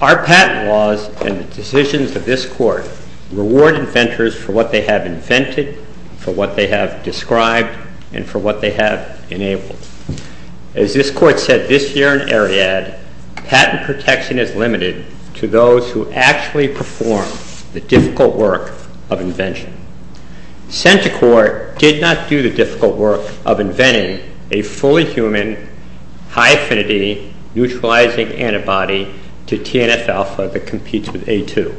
Our patent laws and the decisions of this Court reward inventors for what they have As this Court said this year in Ariadne, patent protection is limited to those who actually perform the difficult work of invention. CENTOCOR did not do the difficult work of inventing a fully human, high affinity, neutralizing antibody to TNS-alpha that competes with A2,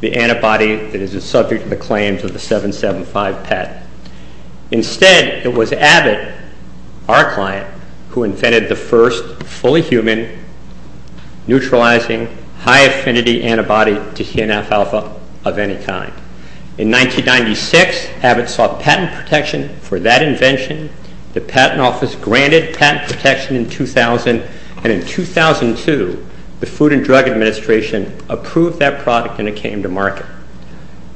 the antibody that is the subject of the claims of the 775 patent. Instead, it was Abbott, our client, who invented the first fully human, neutralizing, high affinity antibody to TNS-alpha of any kind. In 1996, Abbott sought patent protection for that invention, the Patent Office granted patent protection in 2000, and in 2002, the Food and Drug Administration approved that product and it came to market.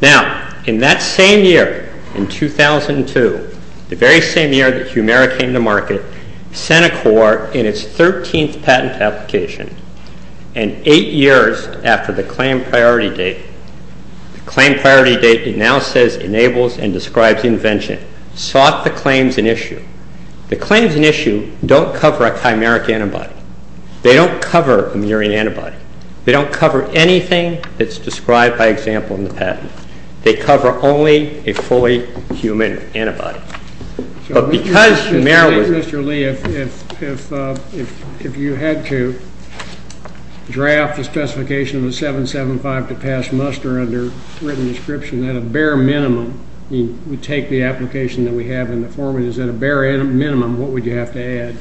Now, in that same year, in 2002, the very same year that Humira came to market, CENTOCOR in its 13th patent application, and 8 years after the claim priority date, the claim priority date it now says enables and describes invention, sought the claims in issue. The claims in issue don't cover a chimeric antibody. They don't cover a murine antibody. They don't cover anything that's described by example in the patent. They cover only a fully human antibody. But because you marry... So, Mr. Lee, if you had to draft a specification with 775 to pass muster under written description at a bare minimum, you take the application that we have in the foreword, is it a bare minimum, what would you have to add?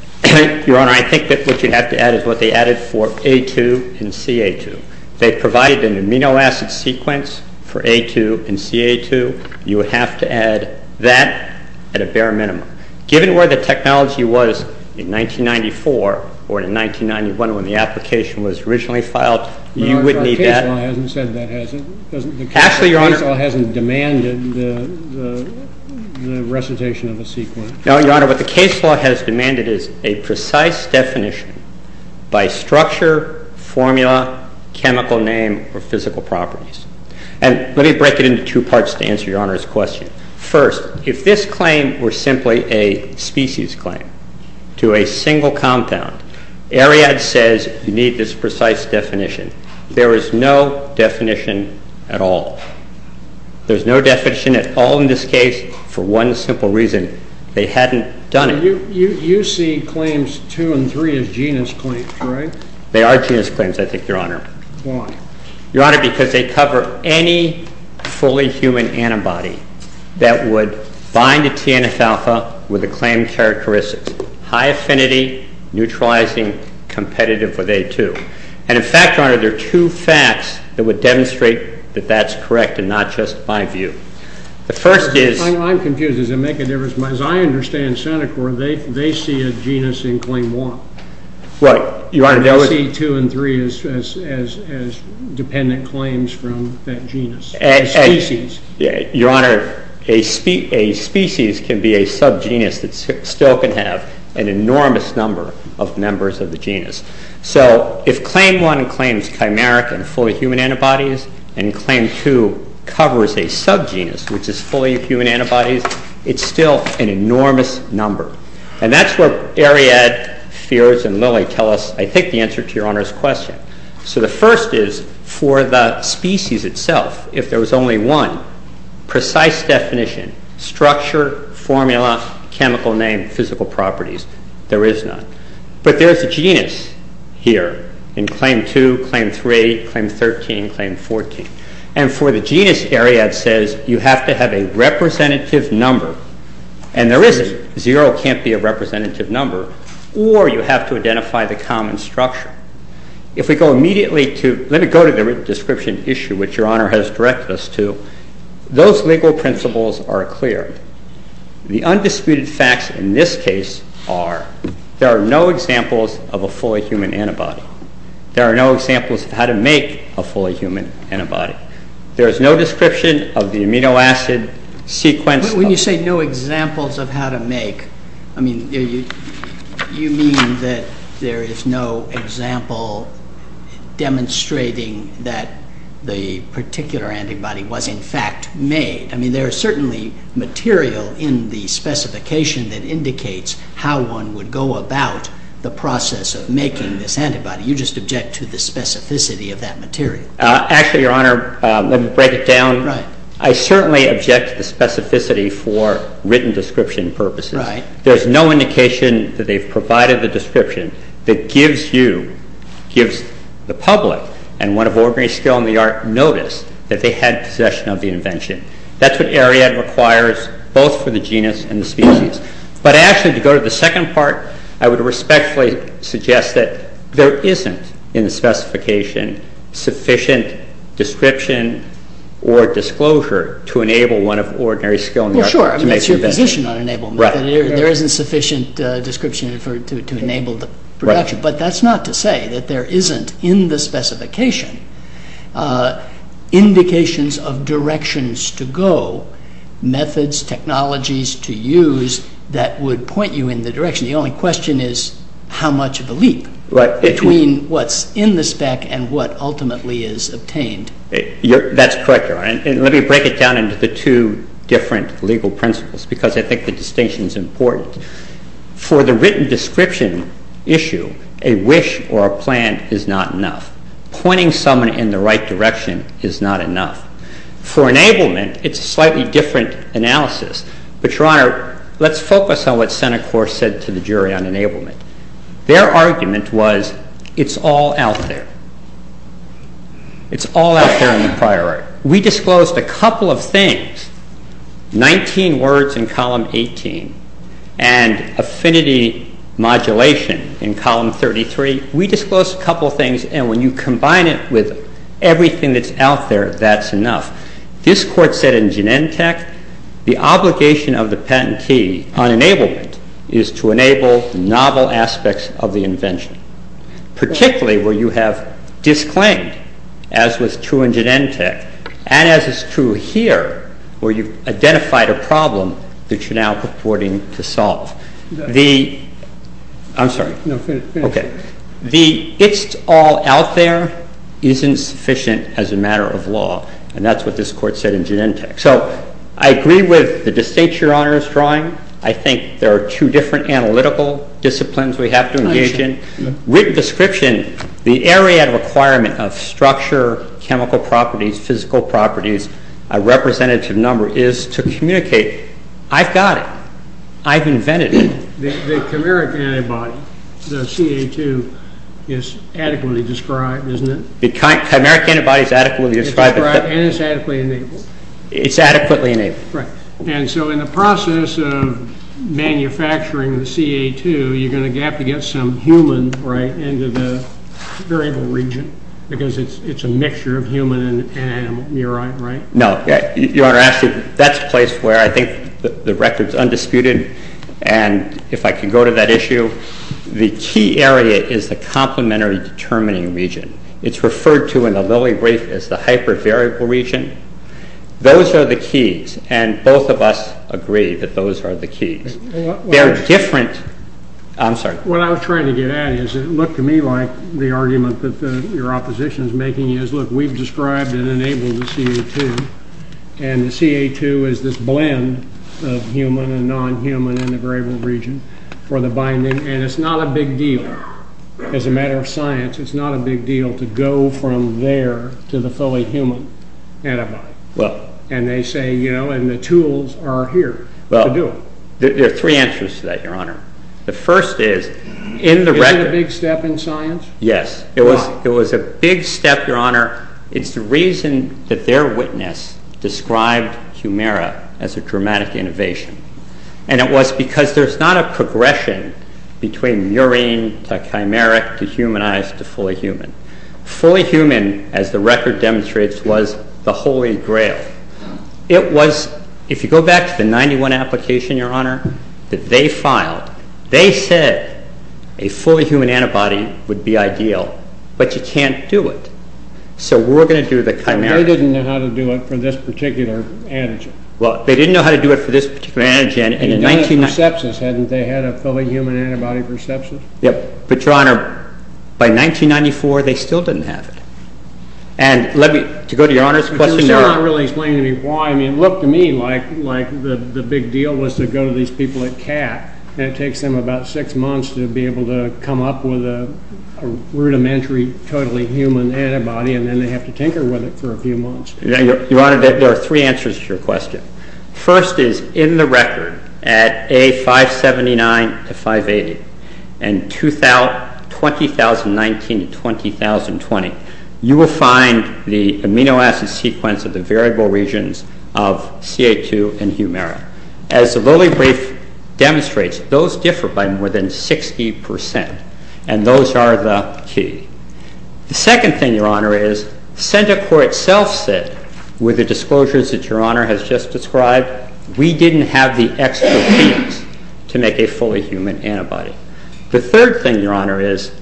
Your Honor, I think that what you'd have to add is what they added for A2 and CA2. They provided an amino acid sequence for A2 and CA2. You would have to add that at a bare minimum. Given where the technology was in 1994 or in 1991 when the application was originally filed, you wouldn't need that. Well, the case law hasn't said that has it. Actually, Your Honor... The case law hasn't demanded the recitation of a sequence. No, Your Honor. What the case law has demanded is a precise definition by structure, formula, chemical name, or physical properties. And let me break it into two parts to answer Your Honor's question. First, if this claim was simply a species claim to a single compound, Ariad says you need this precise definition. There is no definition at all. There's no definition at all in this case for one simple reason. They hadn't done it. You see claims two and three as genus claims, correct? They are genus claims, I think, Your Honor. Why? Your Honor, because they cover any fully human antibody that would bind a TNS alpha with a claim characteristic. High affinity, neutralizing, competitive with A2. And in fact, Your Honor, there are two facts that would demonstrate that that's correct and not just my view. The first is... I'm confused. Does it make a difference? As I understand Seneca, they see a genus in claim one. Well, Your Honor... They see two and three as dependent claims from that genus, a species. Your Honor, a species can be a subgenus. It still can have an enormous number of members of the genus. So if claim one claims chimeric and fully human antibodies, and claim two covers a subgenus, which is fully human antibodies, it's still an enormous number. And that's what Ariad, Feers, and Lilly tell us, I think, the answer to Your Honor's question. So the first is for the species itself, if there was only one precise definition, structure, formula, chemical name, physical properties, there is none. But there's a genus here in claim two, claim three, claim 13, claim 14. And for the genus, Ariad says, you have to have a representative number. And there isn't. Zero can't be a representative number. Or you have to identify the common structure. If we go immediately to... Let me go to the description issue, which Your Honor has directed us to. Those legal principles are clear. The undisputed facts in this case are there are no examples of a fully human antibody. There are no examples of how to make a fully human antibody. There is no description of the amino acid sequence... When you say no examples of how to make, I mean, you mean that there is no example demonstrating that the particular antibody was, in fact, made. I mean, there is certainly material in the specification that indicates how one would go about the process of making this antibody. You just object to the specificity of that material. Actually, Your Honor, let me break it down. I certainly object to specificity for written description purposes. Right. There's no indication that they provided the description that gives you, gives the public and one of ordinary skill in the art notice that they had possession of the invention. That's what Ariadne requires, both for the genus and the species. But actually, to go to the second part, I would respectfully suggest that there isn't, in the specification, sufficient description or disclosure to enable one of ordinary skill... Yeah, sure. That's your condition on enablement. Right. There isn't sufficient description to enable the production. But that's not to say that there isn't, in the specification, indications of directions to go, methods, technologies to use that would point you in the direction. The only question is how much of a leap between what's in the spec and what ultimately is obtained. That's correct, Your Honor. And let me break it down into the two different legal principles because I think the distinction is important. For the written description issue, a wish or a plan is not enough. Pointing someone in the right direction is not enough. For enablement, it's a slightly different analysis. But, Your Honor, let's focus on what Senate Court said to the jury on enablement. Their argument was, it's all out there. It's all out there in the inquiry. However, we disclosed a couple of things, 19 words in column 18 and affinity modulation in column 33. We disclosed a couple of things, and when you combine it with everything that's out there, that's enough. This court said in Genentech, the obligation of the patentee on enablement is to enable novel aspects of the invention. Particularly where you have disclaimed, as was true in Genentech, and as is true here where you've identified a problem that you're now purporting to solve. I'm sorry. Okay. The it's all out there isn't sufficient as a matter of law. And that's what this court said in Genentech. So I agree with the distinction Your Honor is drawing. I think there are two different analytical disciplines we have to engage in. With description, the area of requirement of structure, chemical properties, physical properties, a representative number is to communicate, I've got it. I've invented it. The chimeric antibody, the CA2, is adequately described, isn't it? The chimeric antibody is adequately described. And it's adequately enabled. It's adequately enabled. Right. And so in the process of manufacturing the CA2, you're going to have to get some humans into the variable region. Because it's a mixture of human and neuron, right? No. Your Honor, that's a place where I think the record is undisputed. And if I can go to that issue, the key area is the complementary determining region. It's referred to in the Lilly brief as the hypervariable region. Those are the keys. And both of us agree that those are the keys. They're different. I'm sorry. What I was trying to get at is it looked to me like the argument that your opposition is making is, look, we've described and enabled the CA2. And the CA2 is this blend of human and nonhuman in the variable region for the binding. And it's not a big deal. As a matter of science, it's not a big deal to go from there to the fully human antibody. And they say, you know, and the tools are here to do it. There are three answers to that, your Honor. The first is in the record. Is it a big step in science? Yes. It was a big step, your Honor. It's the reason that their witness described Humira as a dramatic innovation. And it was because there's not a progression between murine to chimeric to humanized to fully human. Fully human, as the record demonstrates, was the holy grail. It was, if you go back to the 91 application, your Honor, that they filed, they said a fully human antibody would be ideal. But you can't do it. So we're going to do the chimeric. They didn't know how to do it for this particular antigen. Well, they didn't know how to do it for this particular antigen. They didn't have perceptions. Hadn't they had a fully human antibody perception? Yep. But, your Honor, by 1994, they still didn't have it. And let me, to go to your Honor's question, your Honor. It doesn't really explain to me why. I mean, it looked to me like the big deal was to go to these people at CAP. That takes them about six months to be able to come up with a rudimentary totally human antibody, and then they have to tinker with it for a few months. Your Honor, there are three answers to your question. First is, in the record, at A579 to 580, and 2019 to 2020, you will find the amino acid sequence of the variable regions of CA2 and Humira. As the rolling brief demonstrates, those differ by more than 60%, and those are the key. The second thing, your Honor, is, with the disclosures that your Honor has just described, we didn't have the expertise to make a fully human antibody. The third thing, your Honor, is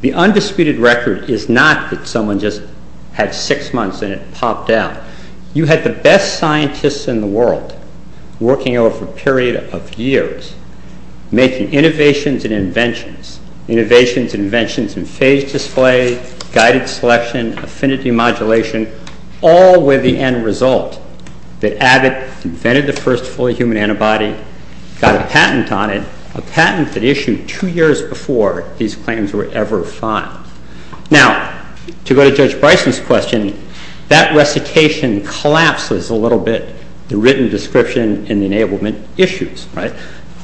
the undisputed record is not that someone just had six months and it popped out. You had the best scientists in the world working over a period of years, making innovations and inventions, innovations and inventions in phase display, guided selection, affinity modulation, all with the end result. They added, invented the first fully human antibody, got a patent on it, a patent that issued two years before these claims were ever filed. Now, to go to Judge Bryson's question, that recitation collapses a little bit the written description and enablement issues, right?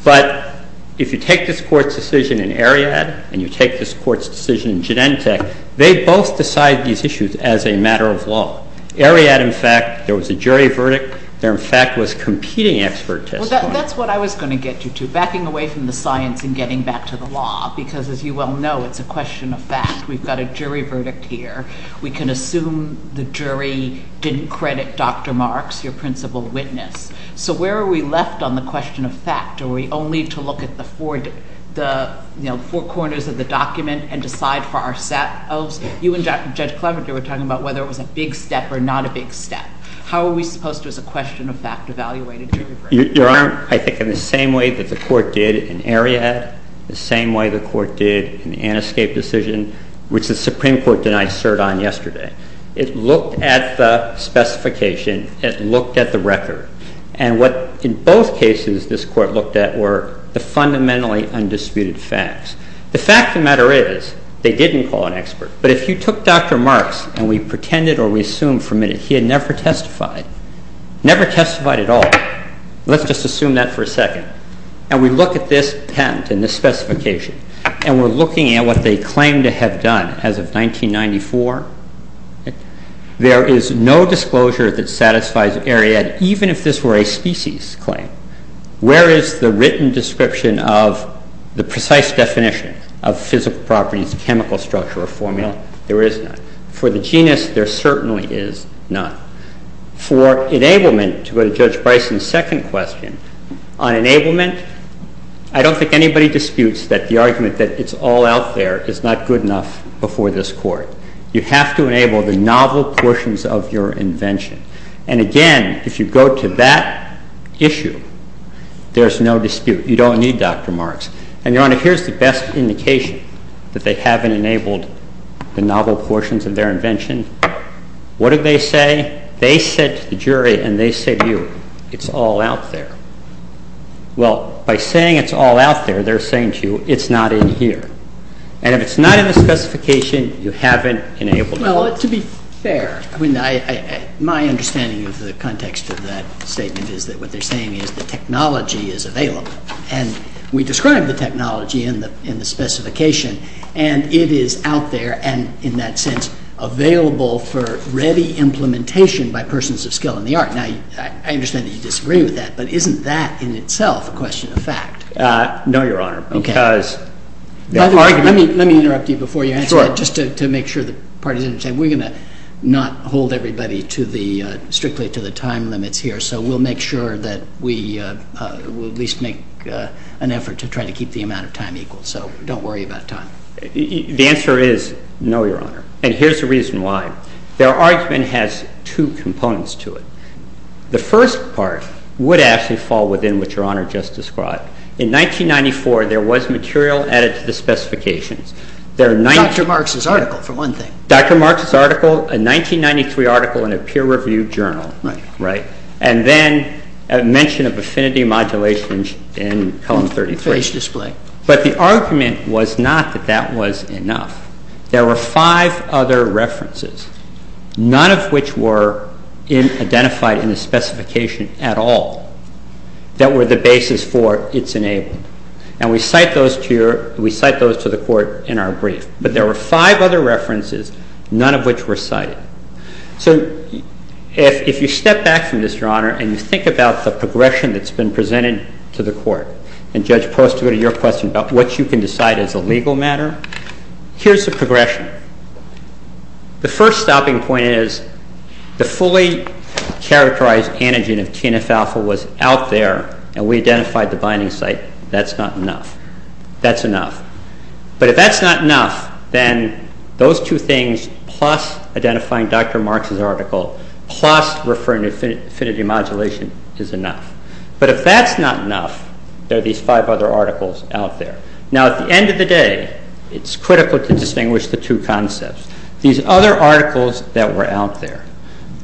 But if you take this Court's decision in Ariadne and you take this Court's decision in Gidente, they both decide these issues as a matter of law. Ariadne, in fact, there was a jury verdict. There, in fact, was competing expertise. That's what I was going to get you to, backing away from the science and getting back to the law, because, as you well know, it's a question of fact. We've got a jury verdict here. We can assume the jury didn't credit Dr. Marks, your principal witness. So where are we left on the question of fact? Are we only to look at the four corners of the document and decide for ourselves? You and Judge Klobuchar were talking about whether it was a big step or not a big step. How are we supposed to, as a question of fact, evaluate a jury verdict? Your Honor, I think in the same way that the Court did in Ariadne, the same way the Court did in the NSK decision, which the Supreme Court did not assert on yesterday. It looked at the specification. It looked at the record. And what, in both cases, this Court looked at were the fundamentally undisputed facts. The fact of the matter is they didn't call an expert. But if you took Dr. Marks and we pretended or we assumed for a minute he had never testified, never testified at all, let's just assume that for a second, and we look at this patent and this specification and we're looking at what they claim to have done as of 1994, there is no disclosure that satisfies Ariadne, even if this were a species claim. Where is the written description of the precise definition of physical properties, chemical structure, or formula? There is none. For the genus, there certainly is none. For enablement, to go to Judge Bison's second question, on enablement, I don't think anybody disputes that the argument that it's all out there is not good enough before this Court. You have to enable the novel portions of your invention. And again, if you go to that issue, there's no dispute. You don't need Dr. Marks. And, Your Honor, here's the best indication that they haven't enabled the novel portions of their invention. What did they say? They said to the jury, and they said to you, it's all out there. Well, by saying it's all out there, they're saying to you, it's not in here. And if it's not in the specification, you haven't enabled it. Well, to be fair, my understanding of the context of that statement is that what they're saying is the technology is available. And we described the technology in the specification, and it is out there and, in that sense, available for ready implementation by persons of skill in the art. Now, I understand that you disagree with that, but isn't that in itself a question of fact? No, Your Honor. Okay. Let me interrupt you before you answer that just to make sure that part of it isn't said. We're going to not hold everybody strictly to the time limits here, so we'll make sure that we at least make an effort to try to keep the amount of time equal. So don't worry about time. The answer is no, Your Honor, and here's the reason why. Their argument has two components to it. The first part would actually fall within what Your Honor just described. In 1994, there was material added to the specifications. Dr. Marx's article, for one thing. Dr. Marx's article, a 1993 article in a peer-reviewed journal. Right. And then a mention of affinity modulations in column 33. But the argument was not that that was enough. There were five other references, none of which were identified in the specification at all, that were the basis for its enabling. And we cite those to the Court in our brief. But there were five other references, none of which were cited. So if you step back from this, Your Honor, and you think about the progression that's been presented to the Court, and Judge Posner, your question about what you can decide as a legal matter, here's the progression. The first stopping point is the fully characterized antigen of TNF-alpha was out there, and we identified the binding site. That's not enough. That's enough. But if that's not enough, then those two things, plus identifying Dr. Marx's article, plus referring to affinity modulation, is enough. But if that's not enough, there are these five other articles out there. Now, at the end of the day, it's critical to distinguish the two concepts. These other articles that were out there,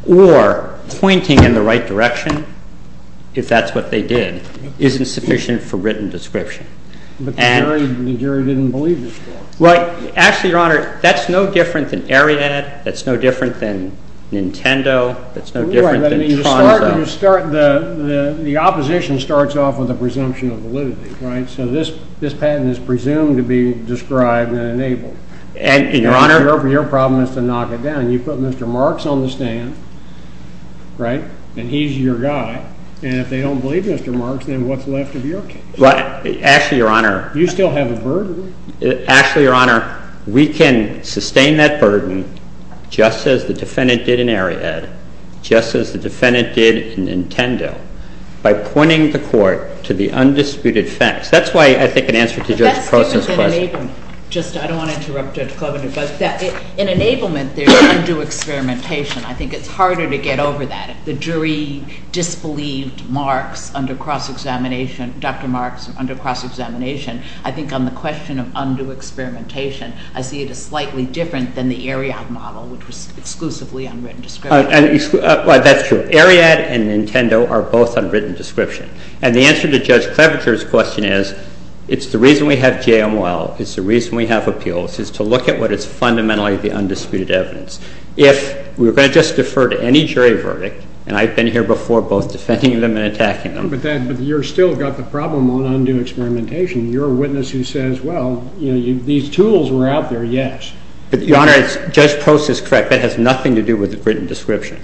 or pointing in the right direction, if that's what they did, isn't sufficient for written description. But the jury didn't believe you. Right. Actually, Your Honor, that's no different than Ariadne. That's no different than Nintendo. That's no different than Congo. The opposition starts off with a presumption of validity, right? So this patent is presumed to be described and enabled. And, Your Honor— Your problem is to knock it down. You put Mr. Marx on the stand, right, and he's your guy. And if they don't believe Mr. Marx, then what's left of your case? Actually, Your Honor— You still have a verdict. Actually, Your Honor, we can sustain that burden, just as the defendant did in Ariadne, just as the defendant did in Nintendo, by pointing the court to the undisputed facts. That's why I think an answer to Judge Klobuchar's question— In enablement, there's undue experimentation. I think it's harder to get over that. The jury disbelieved Dr. Marx under cross-examination. I think on the question of undue experimentation, I see it as slightly different than the Ariadne model, which was exclusively on written description. Well, that's true. Ariadne and Nintendo are both on written description. And the answer to Judge Klobuchar's question is, it's the reason we have JML, it's the reason we have appeals, is to look at what is fundamentally the undisputed evidence. If we're going to just defer to any jury verdict—and I've been here before, both defending them and attacking them— But you've still got the problem on undue experimentation. You're a witness who says, well, these tools were out there, yes. But, Your Honor, Judge Post is correct. That has nothing to do with the written description.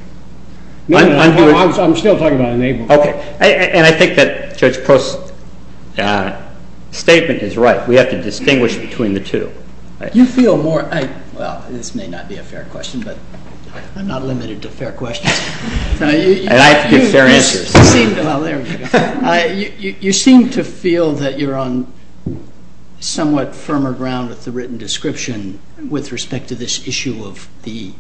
I'm still talking about it. Okay. And I think that Judge Post's statement is right. We have to distinguish between the two. You feel more—well, this may not be a fair question, but I'm not limited to fair questions. You seem to feel that you're on somewhat firmer ground with the written description with respect to this issue of the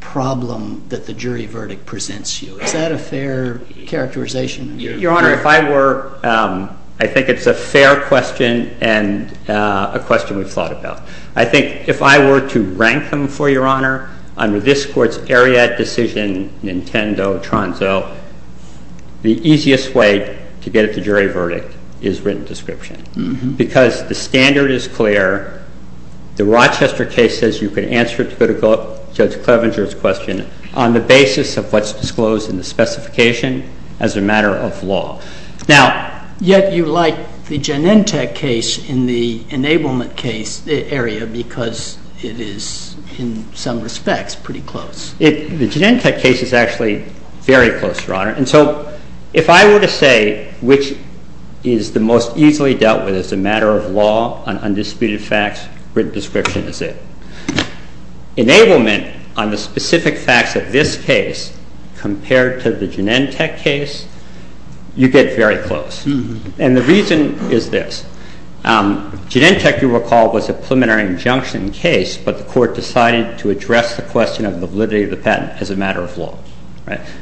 problem that the jury verdict presents you. Is that a fair characterization? Your Honor, if I were—I think it's a fair question and a question we've thought about. I think if I were to rank them, for Your Honor, under this Court's Ariadne decision, Nintendo, Tronzo, the easiest way to get at the jury verdict is written description because the standard is clear. The Rochester case says you can answer to Judge Clevenger's question on the basis of what's disclosed in the specification as a matter of law. Now, yet you like the Genentech case in the enablement case area because it is, in some respects, pretty close. The Genentech case is actually very close, Your Honor. And so if I were to say which is the most easily dealt with as a matter of law on undisputed facts, written description is it. Enablement, on the specific facts of this case, compared to the Genentech case, you get very close. And the reason is this. Genentech, you recall, was a preliminary injunction case, but the Court decided to address the question of the validity of the patent as a matter of law.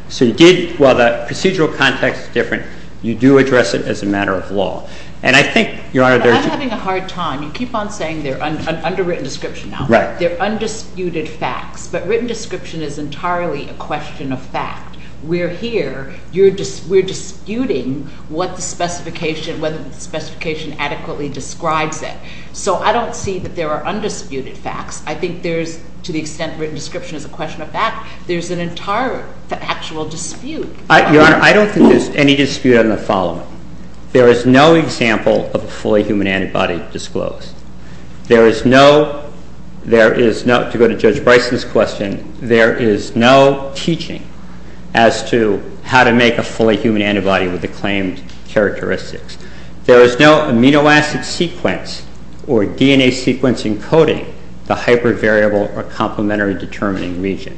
So you did, while the procedural context is different, you do address it as a matter of law. And I think, Your Honor, there's— I'm having a hard time. You keep on saying they're underwritten description. They're undisputed facts. But written description is entirely a question of fact. We're here. We're disputing what the specification adequately describes it. So I don't see that there are undisputed facts. I think there's, to the extent written description is a question of fact, there's an entire actual dispute. Your Honor, I don't think there's any dispute on the following. There is no example of a fully human antibody disclosed. There is no—to go to Judge Bryson's question— there is no teaching as to how to make a fully human antibody with the claimed characteristics. There is no amino acid sequence or DNA sequencing coding to hypervariable or complementary determining region.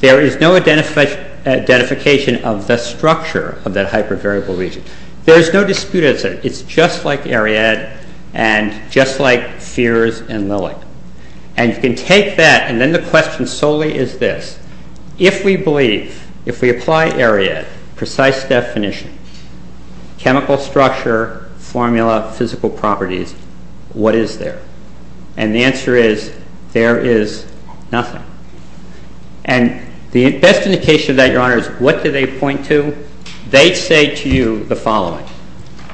There is no identification of the structure of that hypervariable region. There is no dispute as such. It's just like Ariadne and just like Sears and Lilly. And you can take that and then the question solely is this. If we believe, if we apply Ariadne's precise definition, chemical structure, formula, physical properties, what is there? And the answer is there is nothing. And the best indication of that, Your Honor, is what do they point to? They say to you the following.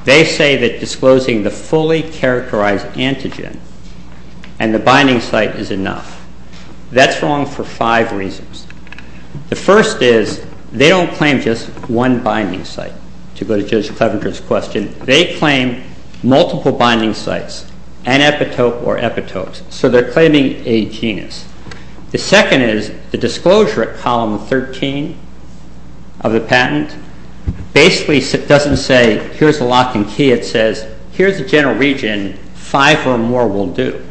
They say that disclosing the fully characterized antigen and the binding site is enough. That's wrong for five reasons. The first is they don't claim just one binding site, to go to Judge Cleventer's question. They claim multiple binding sites, an epitope or epitopes. So they're claiming a genus. The second is the disclosure at column 13 of the patent basically doesn't say here's the locking key. It says here's the general region. Five or more will do.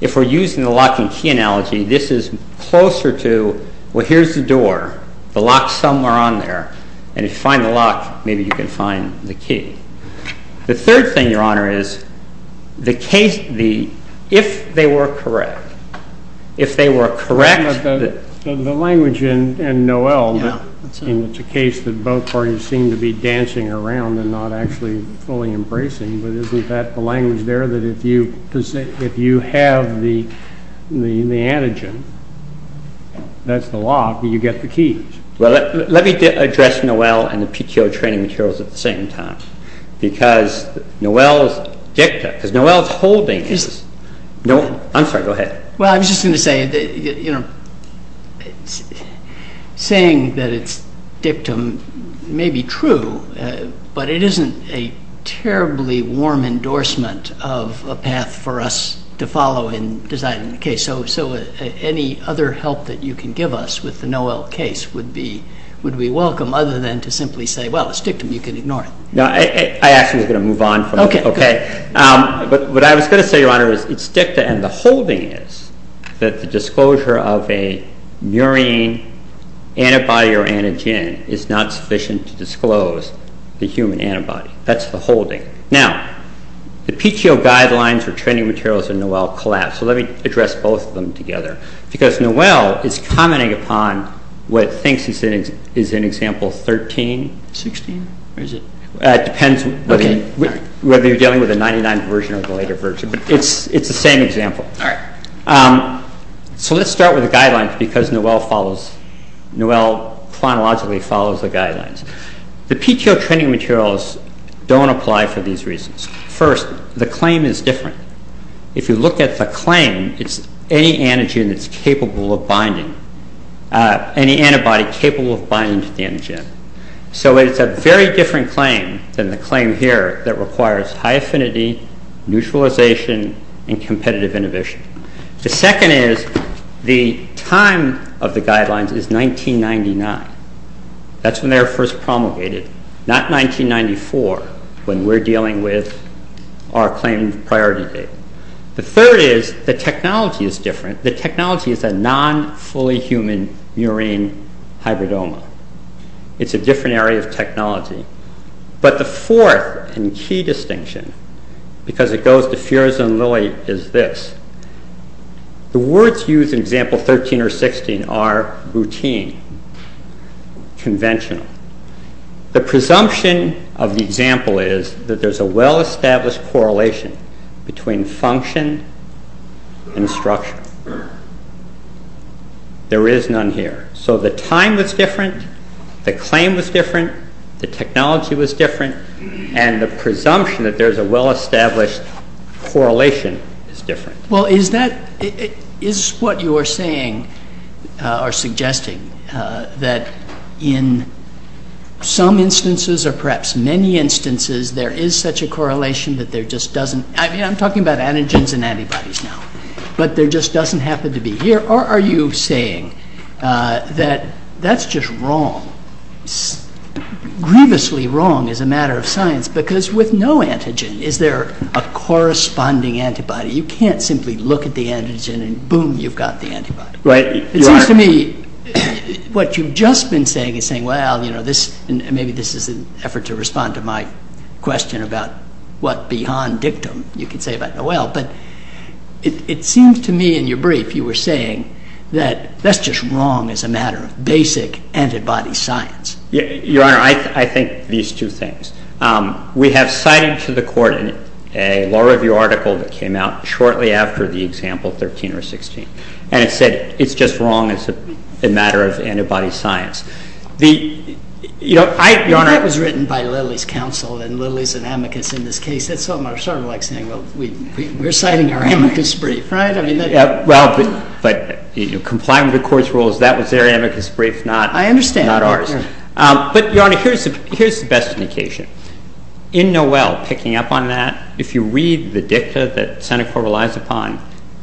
If we're using the locking key analogy, this is closer to, well, here's the door. The lock's somewhere on there. And if you find the lock, maybe you can find the key. The third thing, Your Honor, is the case, if they were correct, if they were correct. The language in Noel, in the case that both parties seem to be dancing around and not actually fully embracing, is that the language there that if you have the antigen, that's the lock, you get the key? Well, let me address Noel and the PTO training materials at the same time. Because Noel's holding this. I'm sorry, go ahead. Well, I was just going to say, you know, saying that it's dictum may be true, but it isn't a terribly warm endorsement of a path for us to follow in designing the case. So any other help that you can give us with the Noel case would be welcome, other than to simply say, well, it's dictum. You can ignore it. No, I actually was going to move on from that. Okay. What I was going to say, Your Honor, is it's dictum, and the holding is that the disclosure of a murine antibody or antigen is not sufficient to disclose the human antibody. That's the holding. Now, the PTO guidelines for training materials in Noel collapse. So let me address both of them together. Because Noel is commenting upon what thinks he's in example 13. 16? It depends whether you're dealing with a 99 version or the later version. It's the same example. All right. So let's start with the guidelines, because Noel follows. Noel chronologically follows the guidelines. The PTO training materials don't apply for these reasons. First, the claim is different. If you look at the claim, it's any antigen that's capable of binding, any antibody capable of binding to the antigen. So it's a very different claim than the claim here that requires high affinity, neutralization, and competitive inhibition. The second is the time of the guidelines is 1999. That's when they were first promulgated, not 1994, when we're dealing with our claimed priority data. The third is the technology is different. The technology is a non-fully human murine hybridoma. It's a different area of technology. But the fourth and key distinction, because it goes to fears and lilies, is this. The words used in example 13 or 16 are routine, conventional. The presumption of the example is that there's a well-established correlation between function and structure. There is none here. So the time was different, the claim was different, the technology was different, and the presumption that there's a well-established correlation is different. Well, is what you are saying or suggesting that in some instances or perhaps many instances there is such a correlation that there just doesn't I'm talking about antigens and antibodies now, but there just doesn't happen to be here? Or are you saying that that's just wrong, grievously wrong as a matter of science, because with no antigen, is there a corresponding antibody? You can't simply look at the antigen and boom, you've got the antibody. To me, what you've just been saying is saying, well, maybe this is an effort to respond to my question about what beyond dictum you can say about the well, but it seems to me in your brief you were saying that that's just wrong as a matter of basic antibody science. Your Honor, I think these two things. We have cited to the court a law review article that came out shortly after the example 13 or 16, and it said it's just wrong as a matter of antibody science. Your Honor, that was written by Lilly's counsel and Lilly's and Amicus in this case. That's what my son likes to think. We're citing their Amicus brief, right? But in compliance with the court's rules, that was their Amicus brief, not ours. I understand. But, Your Honor, here's the best indication. In Noel, picking up on that, if you read the dicta that Seneca relies upon,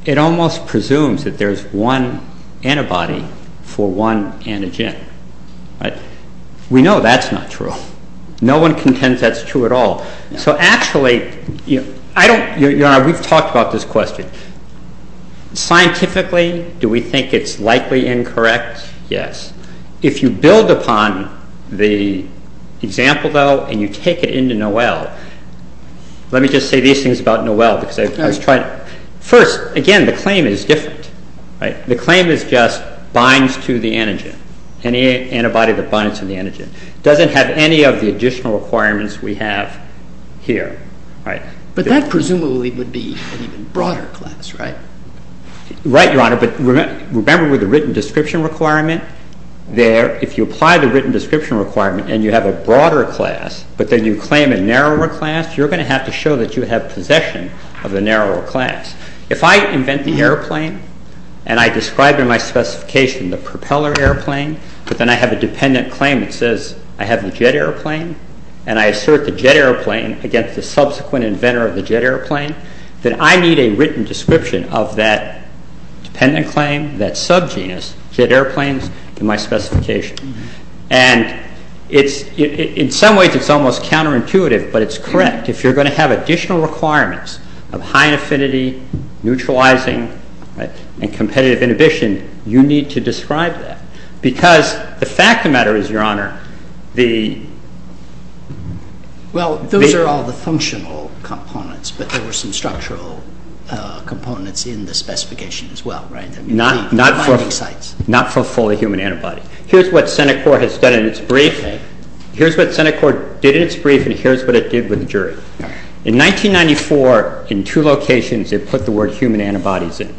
it almost presumes that there's one antibody for one antigen. We know that's not true. No one contends that's true at all. So actually, Your Honor, we've talked about this question. Scientifically, do we think it's likely incorrect? Yes. If you build upon the example, though, and you take it into Noel, let me just say these things about Noel. First, again, the claim is different. The claim is just binds to the antigen, any antibody that binds to the antigen. It doesn't have any of the additional requirements we have here. But that presumably would be an even broader class, right? Right, Your Honor, but remember with the written description requirement there, if you apply the written description requirement and you have a broader class, but then you claim a narrower class, you're going to have to show that you have possession of the narrower class. If I invent the airplane and I describe in my specification the propeller airplane, but then I have a dependent claim that says I have the jet airplane and I assert the jet airplane against the subsequent inventor of the jet airplane, then I need a written description of that dependent claim, that subgenus, jet airplanes, in my specification. And in some ways, it's almost counterintuitive, but it's correct. If you're going to have additional requirements of high affinity, neutralizing, and competitive inhibition, you need to describe that because the fact of the matter is, Your Honor, the... Well, those are all the functional components, but there were some structural components in the specification as well, right? Not for fully human antibodies. Here's what Senate Court has done in its brief. Here's what Senate Court did in its brief, and here's what it did with the jury. In 1994, in two locations, it put the word human antibodies in.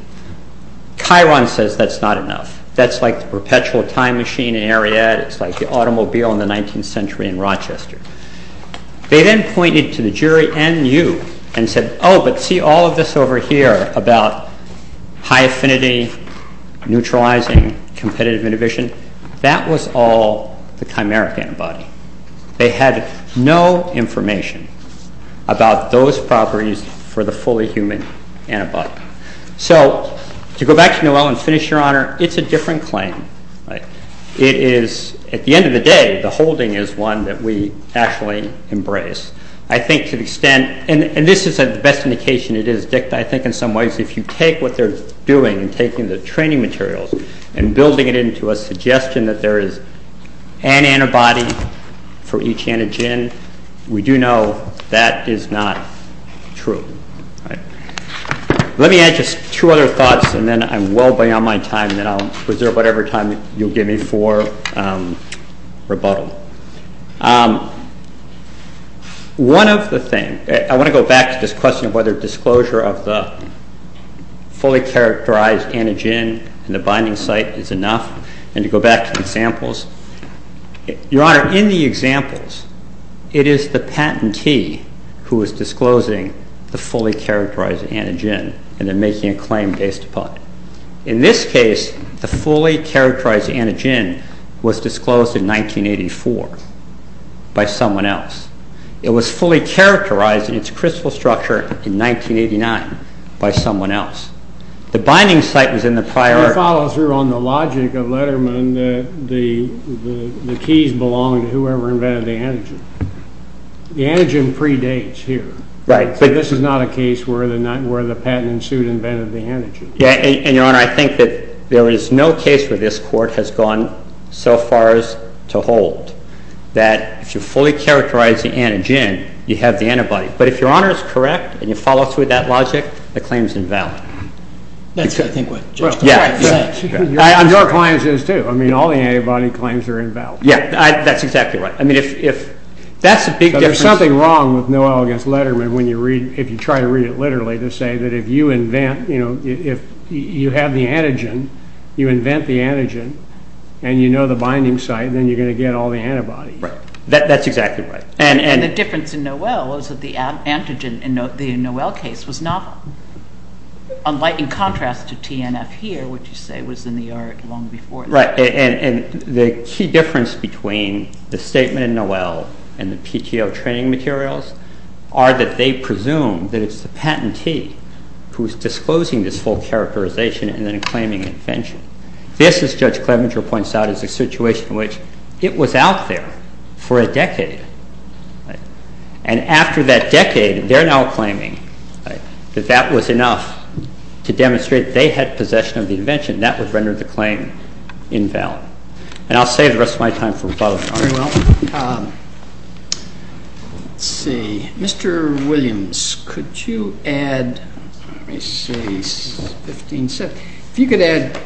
Chiron says that's not enough. That's like the perpetual time machine in Ariadne. It's like the automobile in the 19th century in Rochester. They then pointed to the jury and you and said, Oh, but see all of this over here about high affinity, neutralizing, competitive inhibition? That was all the chimeric antibody. They had no information about those properties for the fully human antibody. So to go back to Noel and finish, Your Honor, it's a different claim. It is, at the end of the day, the holding is one that we actually embrace. I think to the extent, and this is the best indication it is dicta, I think in some ways if you take what they're doing and taking the training materials and building it into a suggestion that there is an antibody for each antigen, we do know that is not true. Let me add just two other thoughts and then I'm well beyond my time and then I'll reserve whatever time you'll give me for rebuttal. One of the things, I want to go back to this question of whether disclosure of the fully characterized antigen in the binding site is enough, and to go back to the examples. Your Honor, in the examples, it is the patentee who is disclosing the fully characterized antigen and then making a claim based upon it. In this case, the fully characterized antigen was disclosed in 1984 by someone else. It was fully characterized in its crystal structure in 1989 by someone else. The binding site was in the prior. I follow through on the logic of Letterman that the keys belong to whoever invented the antigen. The antigen predates here. Right. But this is not a case where the patent suit invented the antigen. Your Honor, I think that there is no case that this Court has gone so far as to hold that if you fully characterize the antigen, you have the antibody. But if Your Honor is correct and you follow through with that logic, the claim is invalid. That's what I think. On your clients' too. I mean, all the antibody claims are invalid. Yes, that's exactly right. But there's something wrong with Noel against Letterman if you try to read it literally to say that if you have the antigen, you invent the antigen, and you know the binding site, then you're going to get all the antibodies. That's exactly right. And the difference in Noel is that the antigen in the Noel case was not a lightening contrast to TNF here, which you say was in the art long before that. Right. And the key difference between the statement in Noel and the PTO training materials are that they presume that it's the patentee who's disclosing this whole characterization and then claiming invention. This, as Judge Clement points out, is a situation in which it was out there for a decade. And after that decade, they're now claiming that that was enough to demonstrate they had possession of the invention. That was rendered the claim invalid. And I'll save the rest of my time for the following. Very well. Let's see. Mr. Williams, could you add, let me see. If you could add,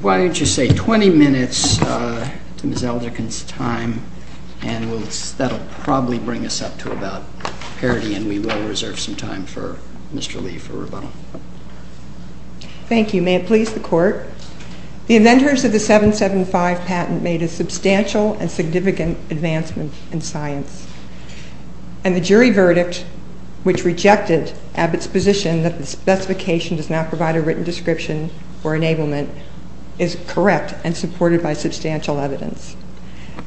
why don't you say 20 minutes to Ms. Eldricken's time, and that'll probably bring us up to about parity, and we will reserve some time for Mr. Lee for rebuttal. Thank you. May it please the Court. The inventors of the 775 patent made a substantial and significant advancement in science. And the jury verdict, which rejected Abbott's position that the specification does not provide a written description or enablement, is correct and supported by substantial evidence.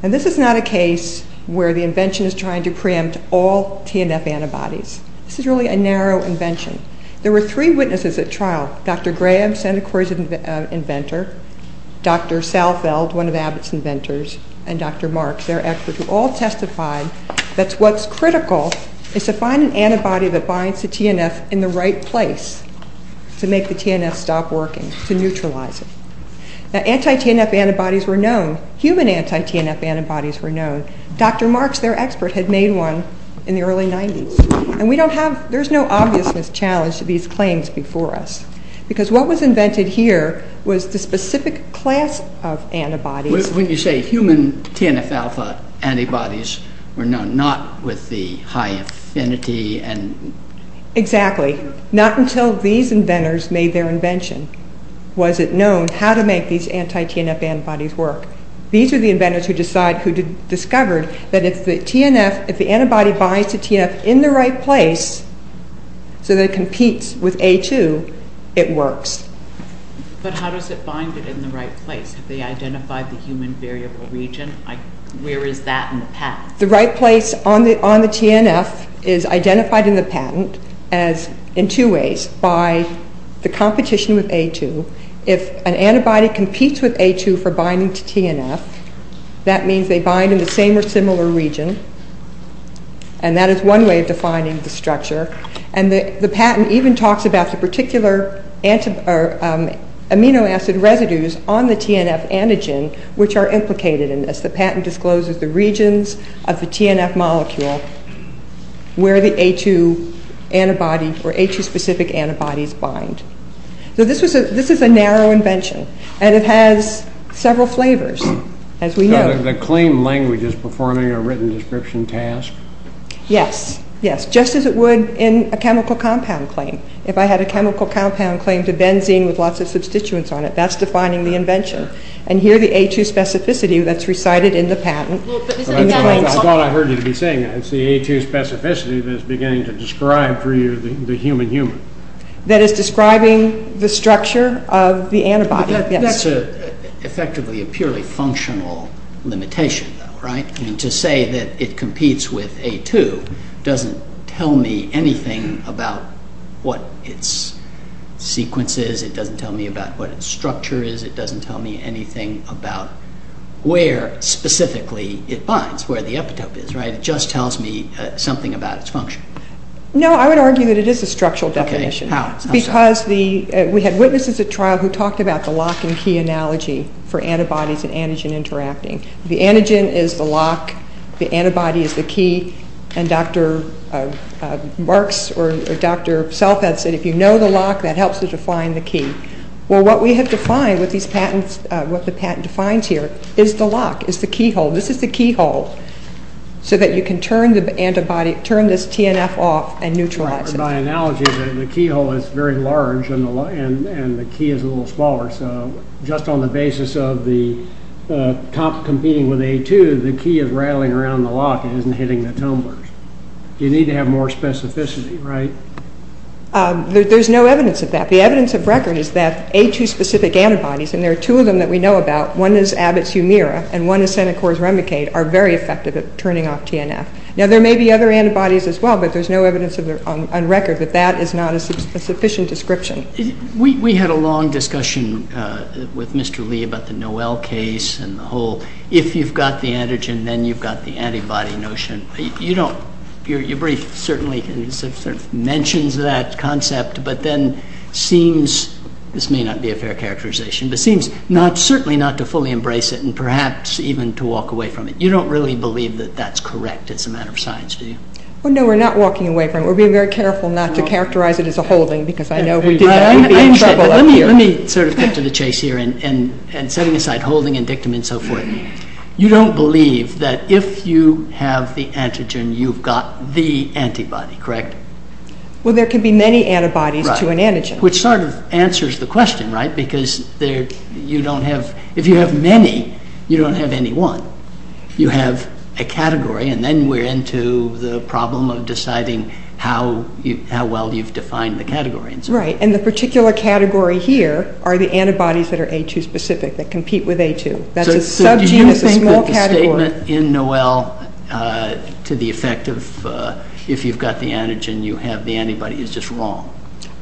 And this is not a case where the invention is trying to preempt all TNF antibodies. This is really a narrow invention. There were three witnesses at trial. Dr. Graham, Santa Cruz inventor, Dr. Salfeld, one of Abbott's inventors, and Dr. Marks, their experts, have all testified that what's critical is to find an antibody that binds to TNF in the right place to make the TNF stop working, to neutralize it. Now, anti-TNF antibodies were known. Human anti-TNF antibodies were known. Dr. Marks, their expert, had made one in the early 90s. And we don't have, there's no obvious challenge to these claims before us. Because what was invented here was the specific class of antibody. When you say human TNF-alpha antibodies were known, not with the high affinity and... Exactly. Not until these inventors made their invention was it known how to make these anti-TNF antibodies work. These are the inventors who discovered that if the antibody binds to TNF in the right place, so that it competes with A2, it works. But how does it bind it in the right place? Because they identified the human variable region. Where is that in the patent? The right place on the TNF is identified in the patent as, in two ways, by the competition with A2. If an antibody competes with A2 for binding to TNF, that means they bind in the same or similar region. And that is one way of defining the structure. And the patent even talks about the particular amino acid residues on the TNF antigen, which are implicated in this. The patent discloses the regions of the TNF molecule where the A2 antibodies or A2-specific antibodies bind. So this is a narrow invention. And it has several flavors, as we know. The claim language is performing a written description task. Yes, yes, just as it would in a chemical compound claim. If I had a chemical compound claim to benzene with lots of substituents on it, that's defining the invention. And here the A2 specificity that's recited in the patent. I thought I heard you say that. It's the A2 specificity that's beginning to describe for you the human-human. That is describing the structure of the antibody. That's effectively a purely functional limitation, right? To say that it competes with A2 doesn't tell me anything about what its sequence is. It doesn't tell me about what its structure is. It doesn't tell me anything about where specifically it binds, where the epitope is, right? It just tells me something about its function. No, I would argue that it is a structural definition. Okay, how? Because we had witnesses at trial who talked about the lock-and-key analogy for antibodies and antigen interacting. The antigen is the lock. The antibody is the key. And Dr. Marks or Dr. Self had said if you know the lock, that helps you define the key. Well, what we have defined with these patents, what the patent defines here is the lock, is the keyhole. This is the keyhole so that you can turn the antibody, turn this TNF off and neutralize it. My analogy is that the keyhole is very large and the key is a little smaller. So just on the basis of the top competing with A2, the key is rattling around the lock. It isn't hitting the tumblers. You need to have more specificity, right? There's no evidence of that. The evidence of record is that A2-specific antibodies, and there are two of them that we know about, one is Abbott's Humira and one is Senecor's Remdekate, are very effective at turning off TNF. Now, there may be other antibodies as well, but there's no evidence on record that that is not a sufficient description. We had a long discussion with Mr. Lee about the Noel case and the whole, if you've got the antigen, then you've got the antibody notion. Your brief certainly mentions that concept, but then seems, this may not be a fair characterization, but seems certainly not to fully embrace it and perhaps even to walk away from it. You don't really believe that that's correct as a matter of science, do you? No, we're not walking away from it. We're being very careful not to characterize it as a holding because I know we might be in trouble up here. Let me sort of get to the chase here and setting aside holding and dictum and so forth. You don't believe that if you have the antigen, you've got the antibody, correct? Well, there could be many antibodies to an antigen. Which sort of answers the question, right? Because if you have many, you don't have any one. You have a category, and then we're into the problem of deciding how well you've defined the category. Right, and the particular category here are the antibodies that are A2-specific, that compete with A2. That's a sub-genus, a small category. So do you have a statement in Noel to the effect of if you've got the antigen, you have the antibody. Is this wrong?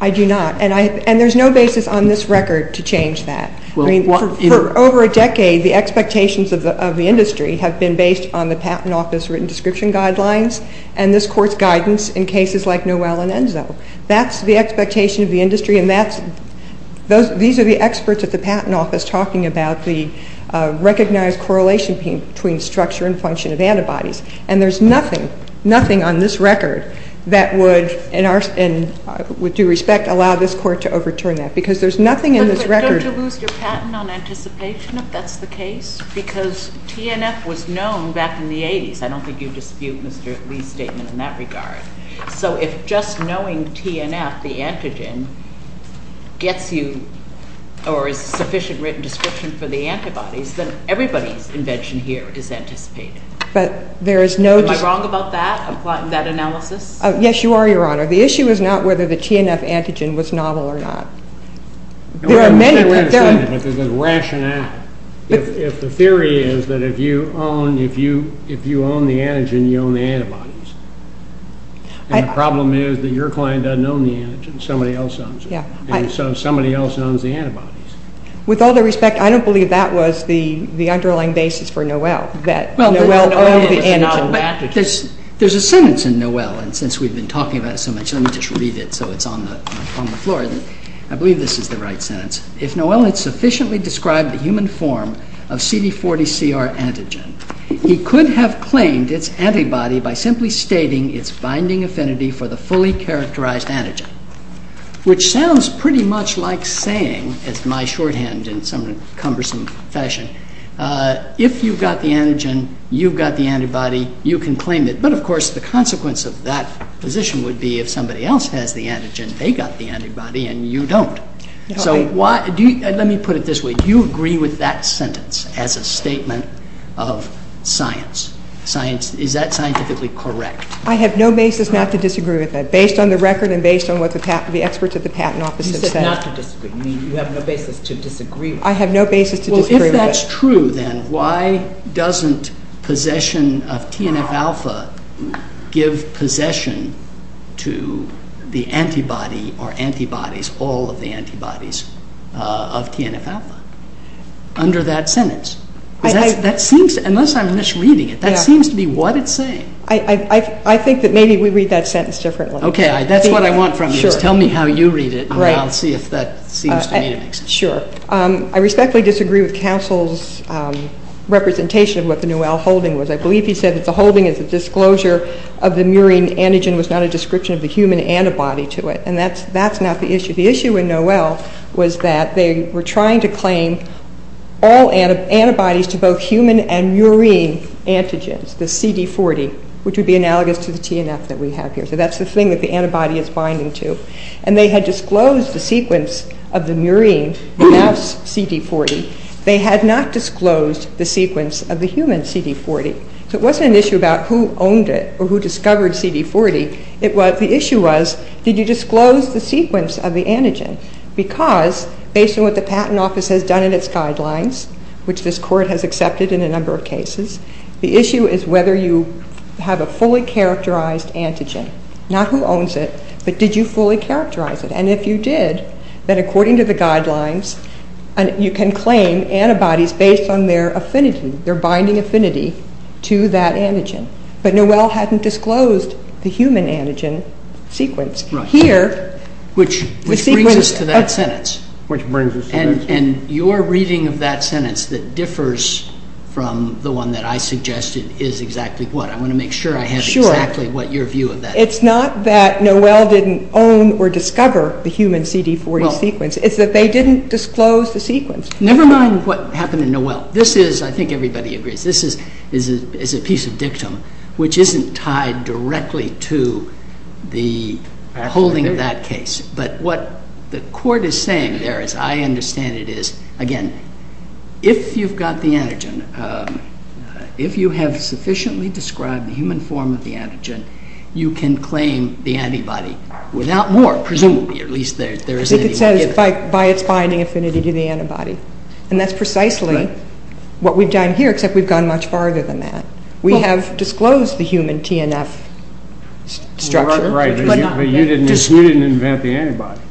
I do not, and there's no basis on this record to change that. For over a decade, the expectations of the industry have been based on the Patent Office written description guidelines and this Court's guidance in cases like Noel and Enzo. That's the expectation of the industry, and these are the experts at the Patent Office talking about the recognized correlation between structure and function of antibodies, and there's nothing on this record that would, in due respect, allow this Court to overturn that because there's nothing in this record. But don't you move your patent on anticipation if that's the case? Because TNF was known back in the 80s. I don't think you dispute Mr. Lee's statement in that regard. So if just knowing TNF, the antigen, gets you or is sufficient written description for the antibodies, then everybody's invention here is anticipated. But there is no... Am I wrong about that? I'm plotting that analysis? Yes, you are, Your Honor. The issue is not whether the TNF antigen was novel or not. There are many... It's a rationale. If the theory is that if you own the antigen, you own the antibodies, and the problem is that your client doesn't own the antigen, somebody else owns it, and so somebody else owns the antibodies. With all due respect, I don't believe that was the underlying basis for Noel, that Noel owns the antibodies. There's a sentence in Noel, and since we've been talking about it so much, let me just read it so it's on the floor. I believe this is the right sentence. If Noel had sufficiently described the human form of CD40CR antigen, he could have claimed its antibody by simply stating its binding affinity for the fully characterized antigen, which sounds pretty much like saying, it's my shorthand in some cumbersome fashion, if you've got the antigen, you've got the antibody, you can claim it. But, of course, the consequence of that position would be if somebody else has the antigen, they've got the antibody, and you don't. Let me put it this way. Do you agree with that sentence as a statement of science? Is that scientifically correct? I have no basis not to disagree with it, based on the record and based on what the experts at the patent office have said. You said not to disagree. You have no basis to disagree with it. Well, if that's true, then why doesn't possession of TNF-alpha give possession to the antibody or antibodies, all of the antibodies of TNF-alpha, under that sentence? Unless I'm misreading it, that seems to be what it's saying. I think that maybe we read that sentence differently. Okay, that's what I want from you. Tell me how you read it, and I'll see if that seems to be it. Sure. I respectfully disagree with Castle's representation of what the Noel holding was. I believe he said that the holding is a disclosure of the murine antigen was not a description of the human antibody to it. And that's not the issue. The issue in Noel was that they were trying to claim all antibodies to both human and murine antigens, the CD40, which would be analogous to the TNF that we have here. So that's the thing that the antibody is binding to. And they had disclosed the sequence of the murine, the mouse CD40. They had not disclosed the sequence of the human CD40. So it wasn't an issue about who owned it or who discovered CD40. The issue was, did you disclose the sequence of the antigen? Because, based on what the Patent Office has done in its guidelines, which this court has accepted in a number of cases, the issue is whether you have a fully characterized antigen. Not who owns it, but did you fully characterize it? And if you did, then according to the guidelines, you can claim antibodies based on their affinity, their binding affinity to that antigen. But Noel hadn't disclosed the human antigen sequence. Here, the sequence of- Which brings us to that sentence. Which brings us to that sentence. And your reading of that sentence that differs from the one that I suggested is exactly what? I want to make sure I have exactly what your view of that is. It's not that Noel didn't own or discover the human CD40 sequence. It's that they didn't disclose the sequence. Never mind what happened to Noel. This is, I think everybody agrees, this is a piece of dictum which isn't tied directly to the holding of that case. But what the court is saying there, as I understand it, is, again, if you've got the antigen, if you have sufficiently described the human form of the antigen, you can claim the antibody. Without more, presumably, at least there's- By its binding affinity to the antibody. And that's precisely what we've done here, except we've gone much farther than that. We have disclosed the human TNF structure. But you didn't invent the antibody.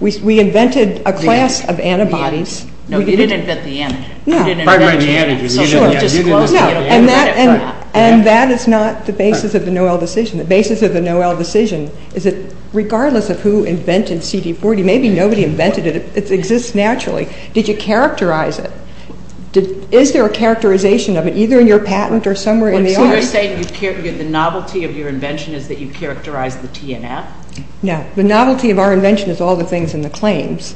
We invented a class of antibodies. No, you did invent the antigen. No, I didn't invent the antigen. And that is not the basis of the Noel decision. The basis of the Noel decision is that regardless of who invented CD40, maybe nobody invented it. It exists naturally. Did you characterize it? Is there a characterization of it, either in your patent or somewhere in the arts? You're saying the novelty of your invention is that you characterized the TNF? No, the novelty of our invention is all the things in the claims.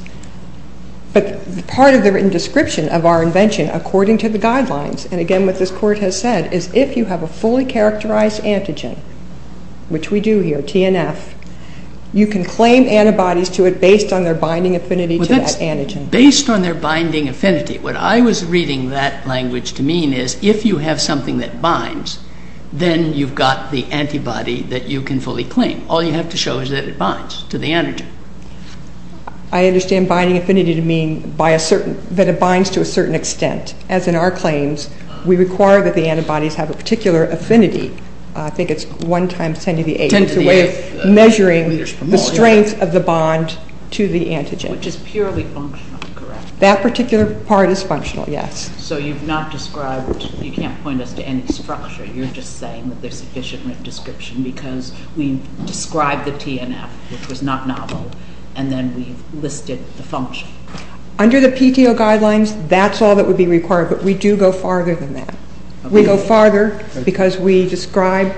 But part of the written description of our invention, according to the guidelines, and again what this court has said, is if you have a fully characterized antigen, which we do here, TNF, you can claim antibodies to it based on their binding affinity to that antigen. Based on their binding affinity. What I was reading that language to mean is if you have something that binds, then you've got the antibody that you can fully claim. All you have to show is that it binds to the antigen. I understand binding affinity to mean that it binds to a certain extent. As in our claims, we require that the antibodies have a particular affinity. I think it's 1 times 10 to the 8, which is a way of measuring the strength of the bond to the antigen. Which is purely functional, correct? That particular part is functional, yes. So you've not described, you can't point us to any structure. You're just saying that there's sufficient description because we described the TNF, which was not novel, and then we listed assumptions. Under the PTO guidelines, that's all that would be required, but we do go farther than that. We go farther because we describe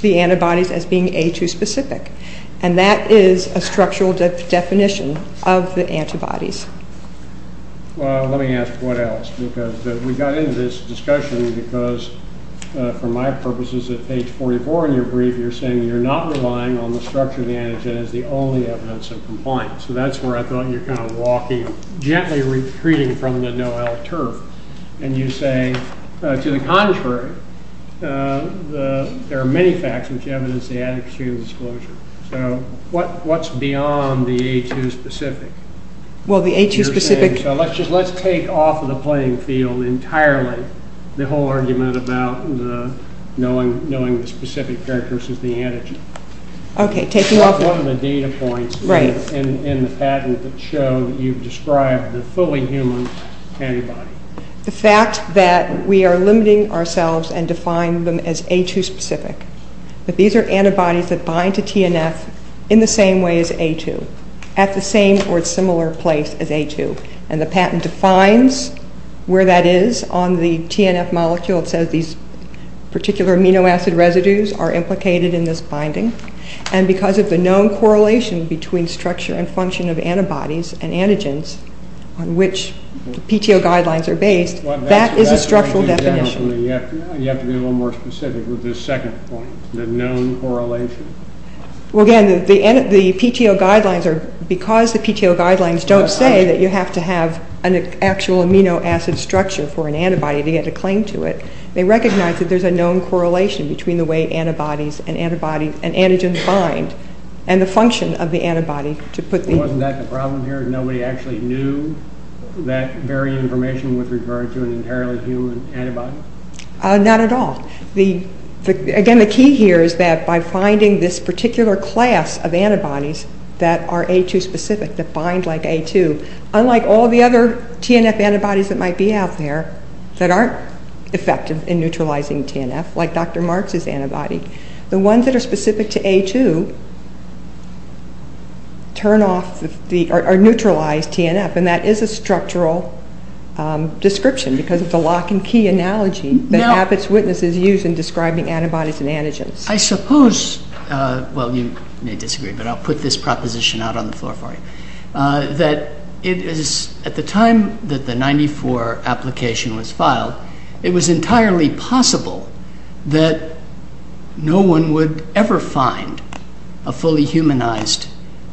the antibodies as being A2 specific. And that is a structural definition of the antibodies. Well, let me ask, what else? Because we got into this discussion because for my purposes at page 44 in your brief, you're saying you're not relying on the structure of the antigen as the only evidence of compliance. So that's where I thought you were kind of walking, gently retreating from the no-out term. And you say, to the contrary, there are many facts which evidence the antigen exposure. So what's beyond the A2 specific? Well, the A2 specific... You're saying, so let's take off the playing field entirely the whole argument about knowing the specific characteristics of the antigen. Okay, take it off. One of the data points in the patent that showed you've described the fully human antibody. The fact that we are limiting ourselves and defining them as A2 specific, that these are antibodies that bind to TNF in the same way as A2, at the same or similar place as A2. And the patent defines where that is on the TNF molecule. It says these particular amino acid residues are implicated in this binding. And because of the known correlation between structure and function of antibodies and antigens on which the PTO guidelines are based, that is a structural definition. You have to be a little more specific with this second point, the known correlation. Well, again, the PTO guidelines are... to have an actual amino acid structure for an antibody to get a claim to it. They recognize that there's a known correlation between the way antibodies and antigens bind and the function of the antibody to put the... Wasn't that the problem here? Nobody actually knew that very information was referred to an entirely human antibody? Not at all. Again, the key here is that by finding this particular class of antibodies that are A2 specific, defined like A2, unlike all the other TNF antibodies that might be out there that aren't effective in neutralizing TNF, like Dr. Marks' antibody, the ones that are specific to A2 turn off or neutralize TNF. And that is a structural description because it's a lock-and-key analogy that Abbott's Witnesses use in describing antibodies and antigens. I suppose, well, you may disagree, but I'll put this proposition out on the floor for you, that it is, at the time that the 94 application was filed, it was entirely possible that no one would ever find a fully humanized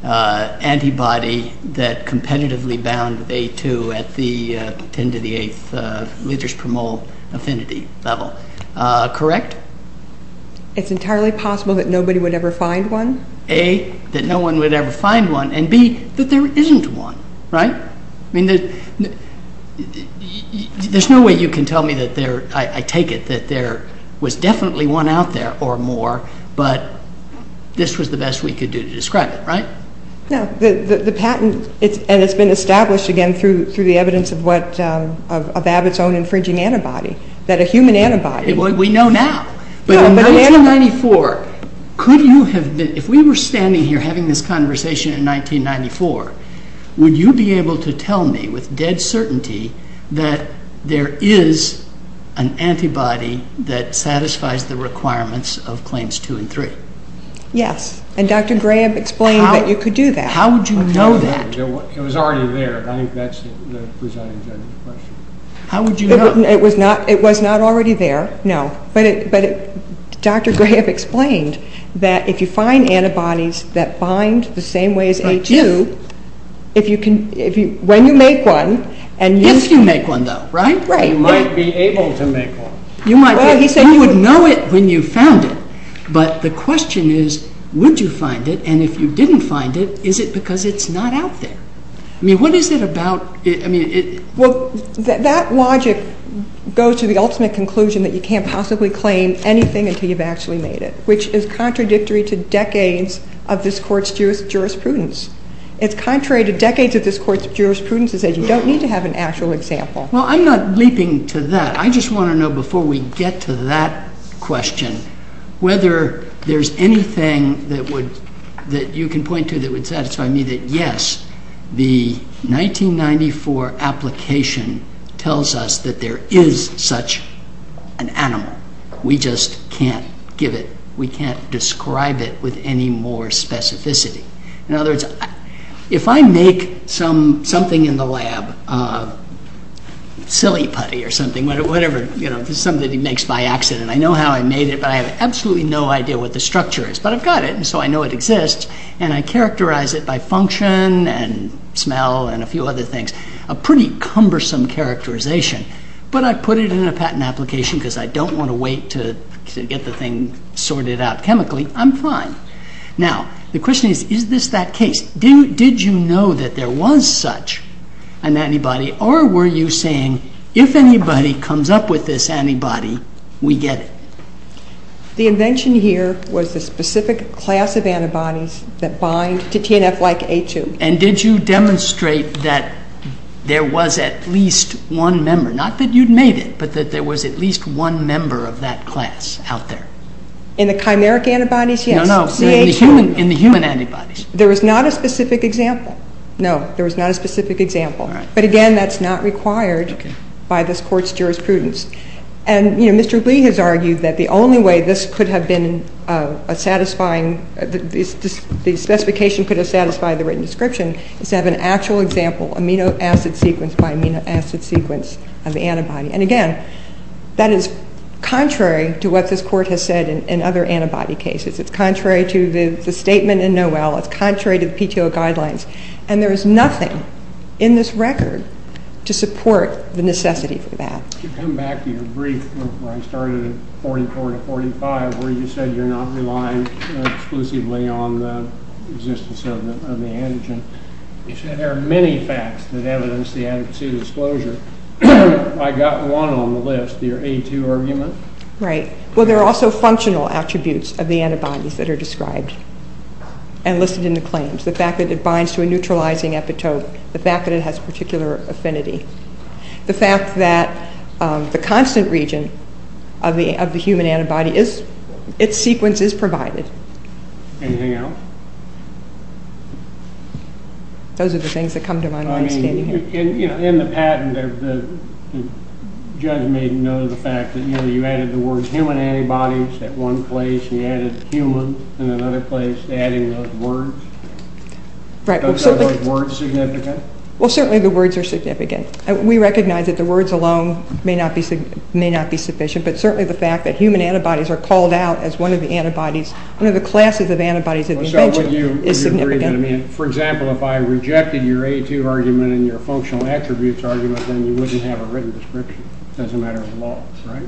antibody that competitively bound A2 at the 10 to the 8th liters per mole affinity level, correct? It's entirely possible that nobody would ever find one? A, that no one would ever find one, and B, that there isn't one, right? I mean, there's no way you can tell me that there, I take it, that there was definitely one out there or more, but this was the best we could do to describe it, right? No, the patent, and it's been established, again, through the evidence of what, of Abbott's own infringing antibodies, that a human antibody... Well, we know now, but in 1994, could you have been, if we were standing here having this conversation in 1994, would you be able to tell me with dead certainty that there is an antibody that satisfies the requirements of Claims 2 and 3? Yes, and Dr. Graham explained that you could do that. How would you know that? It was already there, that's the question. How would you know? It was not already there, no, but Dr. Graham explained that if you find antibodies that bind the same way as A2, if you can, when you make one, and you... If you make one, though, right? Right. You might be able to make one. You might be able to make one. You would know it when you found it, but the question is, would you find it, and if you didn't find it, is it because it's not out there? I mean, what is it about... Well, that logic goes to the ultimate conclusion that you can't possibly claim anything until you've actually made it, which is contradictory to decades of this Court's jurisprudence. It's contrary to decades of this Court's jurisprudence that you don't need to have an actual example. Well, I'm not leaping to that. I just want to know, before we get to that question, whether there's anything that you can point to that would satisfy me that, yes, the 1994 application tells us that there is such an animal. We just can't give it. We can't describe it with any more specificity. In other words, if I make something in the lab, silly putty or something, whatever, something that he makes by accident, I know how I made it, but I have absolutely no idea what the structure is, but I've got it, and so I know it exists, and I characterize it by function and smell and a few other things, a pretty cumbersome characterization, but I put it in a patent application because I don't want to wait to get the thing sorted out chemically. I'm fine. Now, the question is, is this that case? Did you know that there was such an antibody, or were you saying, if anybody comes up with this antibody, we get it? The invention here was the specific class of antibodies that bind to TNF-like A2. And did you demonstrate that there was at least one member, not that you'd made it, but that there was at least one member of that class out there? In the chimeric antibodies? No, no, in the human antibodies. There was not a specific example. No, there was not a specific example. But again, that's not required by this court's jurisprudence. And Mr. Green has argued that the only way this could have been a satisfying, the specification could have satisfied the written description is to have an actual example, amino acid sequence by amino acid sequence of antibody. And again, that is contrary to what this court has said in other antibody cases. It's contrary to the statement in Noel. It's contrary to the PTO guidelines. And there is nothing in this record to support the necessity for that. To come back to your brief, when I started in 44 to 45, where you said you're not relying exclusively on the existence of the antigen, you said there are many facts that evidence the antigen disclosure. I got one on the list, the A2 argument. Right. Well, there are also functional attributes of the antibodies that are described and listed in the claims. The fact that it binds to a neutralizing epitope. The fact that it has particular affinity. The fact that the constant region of the human antibody, its sequence is provided. Anything else? Those are the things that come to my mind. I mean, in the patent, the judge may know the fact that, you know, you added the word human antibodies at one place and added human in another place, adding those words. Right. Aren't those words significant? Well, certainly the words are significant. We recognize that the words alone may not be sufficient, but certainly the fact that human antibodies are called out as one of the antibodies, one of the classes of antibodies in the agent is significant. For example, if I rejected your A2 argument and your functional attributes argument, then you wouldn't have a written description. It doesn't matter at all, right?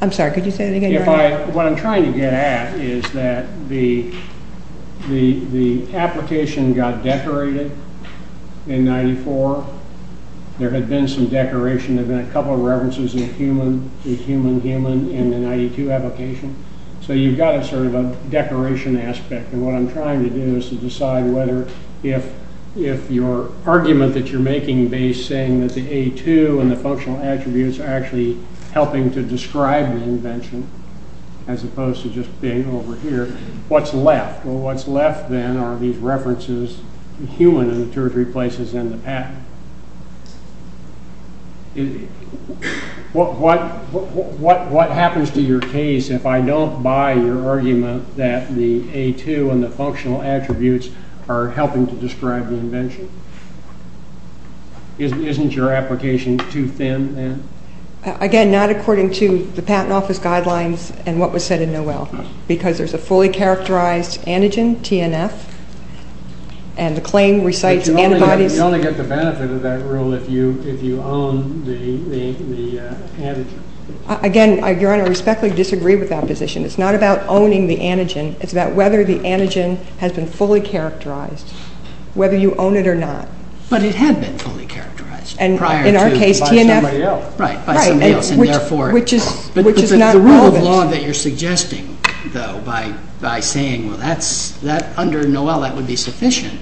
I'm sorry, could you say that again? What I'm trying to get at is that the application got decorated in 94. There had been some decoration. There had been a couple of references of human, human, human in the 92 application. So you've got sort of a decoration aspect, and what I'm trying to do is to decide whether if your argument that you're making is saying that the A2 and the functional attributes are actually helping to describe the invention, as opposed to just being over here, what's left? Well, what's left then are these references of human in the two or three places in the pattern. What happens to your case if I don't buy your argument that the A2 and the functional attributes are helping to describe the invention? Isn't your application too thin then? Again, not according to the Patent Office guidelines and what was said in Noel, because there's a fully characterized antigen, TNF, and the claim recites antibodies. You only get the benefit of that rule if you own the antigen. Again, I respectfully disagree with that position. It's not about owning the antigen. It's about whether the antigen has been fully characterized, whether you own it or not. But it had been fully characterized. In our case, TNF. By somebody else. Right, by somebody else. Which is not relevant. The rule of law that you're suggesting, though, by saying under Noel that would be sufficient,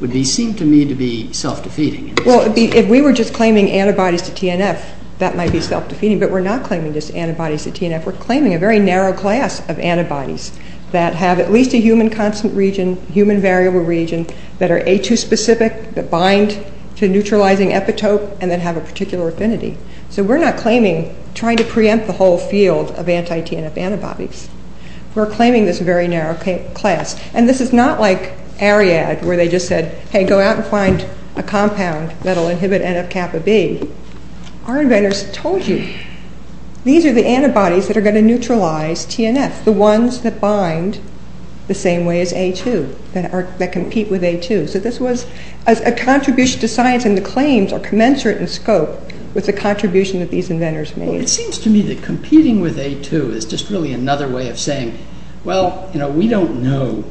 would seem to me to be self-defeating. Well, if we were just claiming antibodies to TNF, that might be self-defeating, but we're not claiming just antibodies to TNF. We're claiming a very narrow class of antibodies that have at least a human constant region, human variable region, that are A2 specific, that bind to neutralizing epitope, and that have a particular affinity. So we're not claiming, trying to preempt the whole field of anti-TNF antibodies. We're claiming this very narrow class. And this is not like Ariadne, where they just said, hey, go out and find a compound that will inhibit NF-kappa B. Our inventors told you these are the antibodies that are going to neutralize TNF, the ones that bind the same way as A2, that compete with A2. So this was a contribution to science, and the claims are commensurate in scope with the contribution that these inventors made. Well, it seems to me that competing with A2 is just really another way of saying, well, we don't know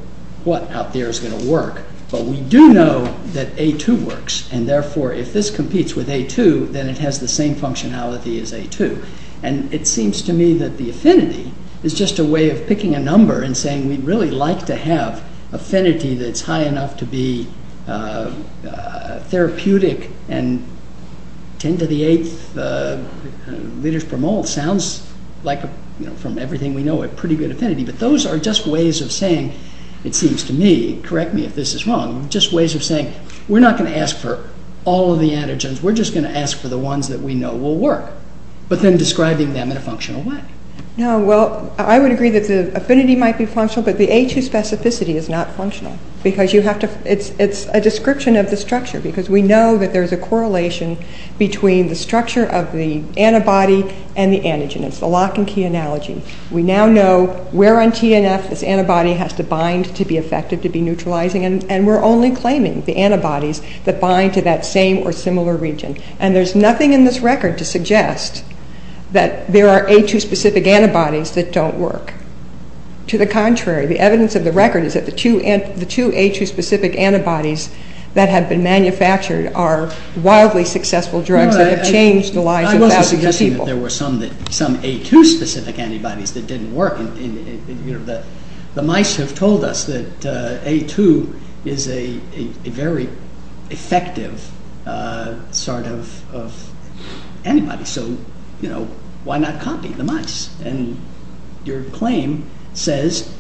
what out there is going to work, but we do know that A2 works, and therefore, if this competes with A2, then it has the same functionality as A2. And it seems to me that the affinity is just a way of picking a number and saying we'd really like to have affinity that's high enough to be therapeutic, and 10 to the 8th liters per mole sounds like, from everything we know, a pretty good affinity. But those are just ways of saying, it seems to me, correct me if this is wrong, just ways of saying we're not going to ask for all of the antigens, we're just going to ask for the ones that we know will work, but then describing them in a functional way. Well, I would agree that the affinity might be functional, but the A2 specificity is not functional because it's a description of the structure because we know that there's a correlation between the structure of the antibody and the antigen. It's the lock and key analogy. We now know where on TNF this antibody has to bind to be effective, to be neutralizing, and we're only claiming the antibodies that bind to that same or similar region. And there's nothing in this record to suggest that there are A2 specific antibodies that don't work. To the contrary, the evidence of the record is that the two A2 specific antibodies that have been manufactured are wildly successful drugs that have changed the lives of thousands of people. I'm not suggesting that there were some A2 specific antibodies that didn't work. The mice have told us that A2 is a very effective sort of antibody, so why not copy the mice? And your claim says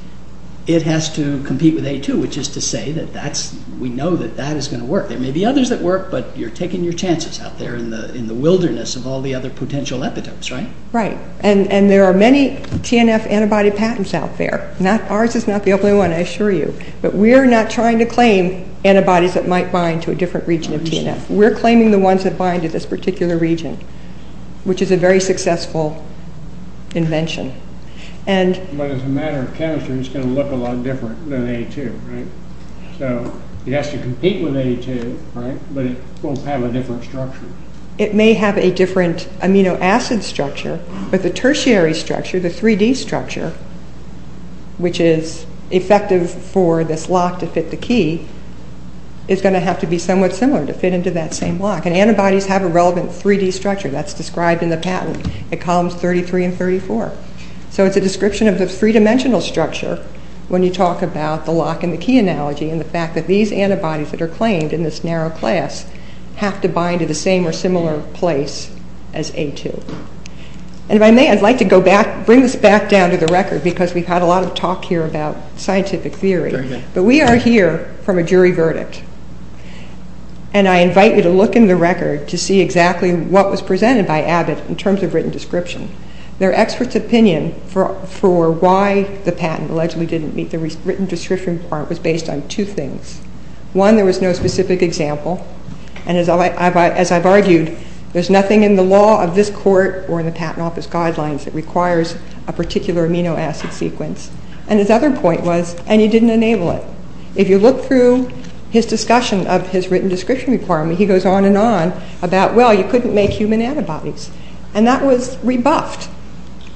it has to compete with A2, which is to say that we know that that is going to work. There may be others that work, but you're taking your chances out there in the wilderness of all the other potential evidence, right? Right. And there are many TNF antibody patents out there. Ours is not the only one, I assure you. But we're not trying to claim antibodies that might bind to a different region of TNF. We're claiming the ones that bind to this particular region, which is a very successful invention. But as a matter of chemistry, it's going to look a lot different than A2, right? So it has to compete with A2, right? But it won't have a different structure. It may have a different amino acid structure, but the tertiary structure, the 3D structure, which is effective for this lock to fit the key, is going to have to be somewhat similar to fit into that same lock. And antibodies have a relevant 3D structure. That's described in the patent at columns 33 and 34. So it's a description of this three-dimensional structure when you talk about the lock and the key analogy and the fact that these antibodies that are claimed in this narrow class have to bind to the same or similar place as A2. And if I may, I'd like to bring this back down to the record because we've had a lot of talk here about scientific theory. But we are here from a jury verdict. And I invite you to look in the record to see exactly what was presented by Abbott in terms of written description. Their expert's opinion for why the patent allegedly didn't meet the written description part was based on two things. One, there was no specific example. And as I've argued, there's nothing in the law of this court or in the patent office guidelines that requires a particular amino acid sequence. And his other point was, and you didn't enable it. If you look through his discussion of his written description requirement, he goes on and on about, well, you couldn't make human antibodies. And that was rebuffed.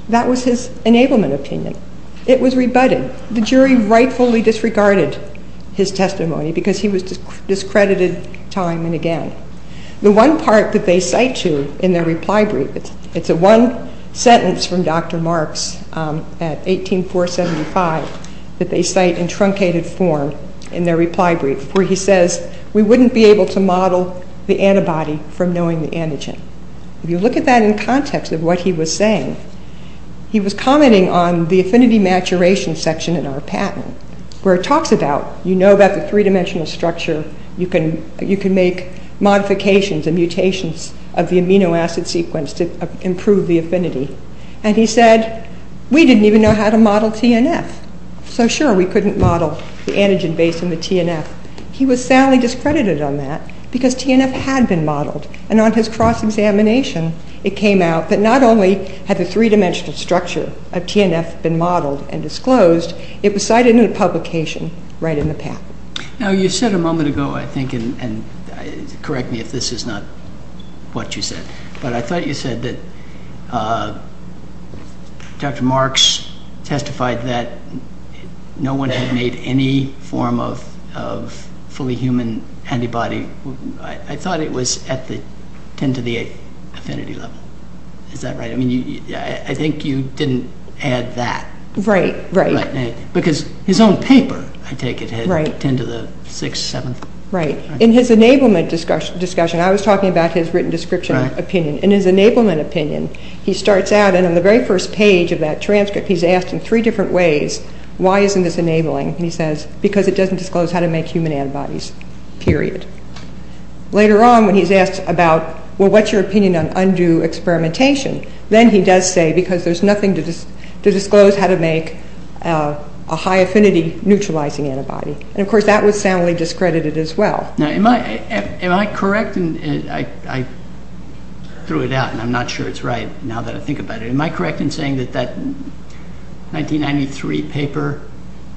That was his enablement opinion. It was rebutted. The jury rightfully disregarded his testimony because he was discredited time and again. The one part that they cite to in their reply brief, it's a one sentence from Dr. Marks at 18475 that they cite in truncated form in their reply brief where he says, we wouldn't be able to model the antibody from knowing the antigen. If you look at that in context of what he was saying, he was commenting on the affinity maturation section in our patent where it talks about, you know about the three-dimensional structure. You can make modifications and mutations of the amino acid sequence to improve the affinity. And he said, we didn't even know how to model TNF. So sure, we couldn't model the antigen base in the TNF. He was soundly discredited on that because TNF had been modeled. And on his cross-examination, it came out that not only had the three-dimensional structure of TNF been modeled and disclosed, it was cited in a publication right in the patent. Now, you said a moment ago, I think, and correct me if this is not what you said, but I thought you said that Dr. Marks testified that no one had made any form of fully human antibody. I thought it was at the 10 to the 8 affinity level. Is that right? I mean, I think you didn't add that. Right, right. Because his own paper, I take it, had 10 to the 6, 7. Right. In his enablement discussion, I was talking about his written description opinion. In his enablement opinion, he starts out, and on the very first page of that transcript, he's asked in three different ways, why isn't this enabling? And he says, because it doesn't disclose how to make human antibodies, period. Later on, when he's asked about, well, what's your opinion on undue experimentation? Then he does say, because there's nothing to disclose how to make a high affinity neutralizing antibody. And, of course, that would sound discredited as well. Now, am I correct? I threw it out, and I'm not sure it's right now that I think about it. Am I correct in saying that that 1993 paper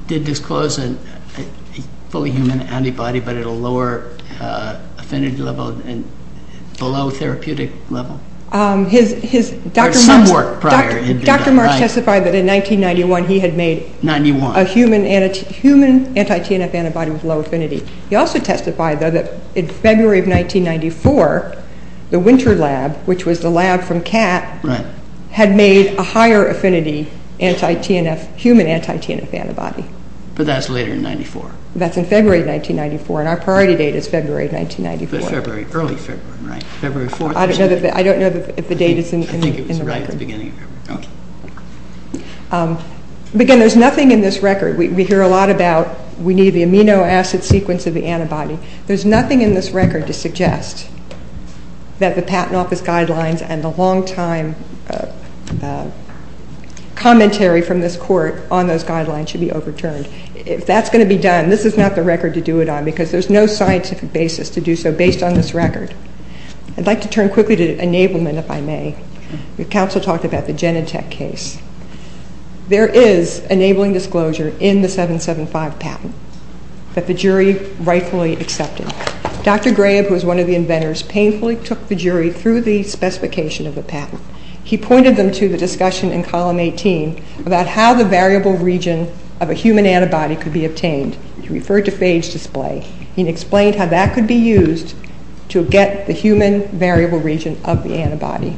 did disclose a fully human antibody, but at a lower affinity level and below therapeutic level? Dr. Marsh testified that in 1991, he had made a human anti-TNF antibody with low affinity. He also testified, though, that in February of 1994, the Winter Lab, which was the lab from Cat, had made a higher affinity human anti-TNF antibody. But that's later than 1994. That's in February of 1994, and our priority date is February of 1994. But early February, right? February 4th? I don't know if the date is in the record. I think it was right at the beginning of February. Again, there's nothing in this record. We hear a lot about we need the amino acid sequence of the antibody. There's nothing in this record to suggest that the Patent Office guidelines and the longtime commentary from this court on those guidelines should be overturned. If that's going to be done, this is not the record to do it on, because there's no scientific basis to do so based on this record. I'd like to turn quickly to enablement, if I may. Your counsel talked about the Genentech case. There is enabling disclosure in the 775 patent, that the jury rightfully accepted. Dr. Graham, who was one of the inventors, painfully took the jury through the specification of the patent. He pointed them to the discussion in column 18 about how the variable region of a human antibody could be obtained. He referred to phage display. He explained how that could be used to get the human variable region of the antibody.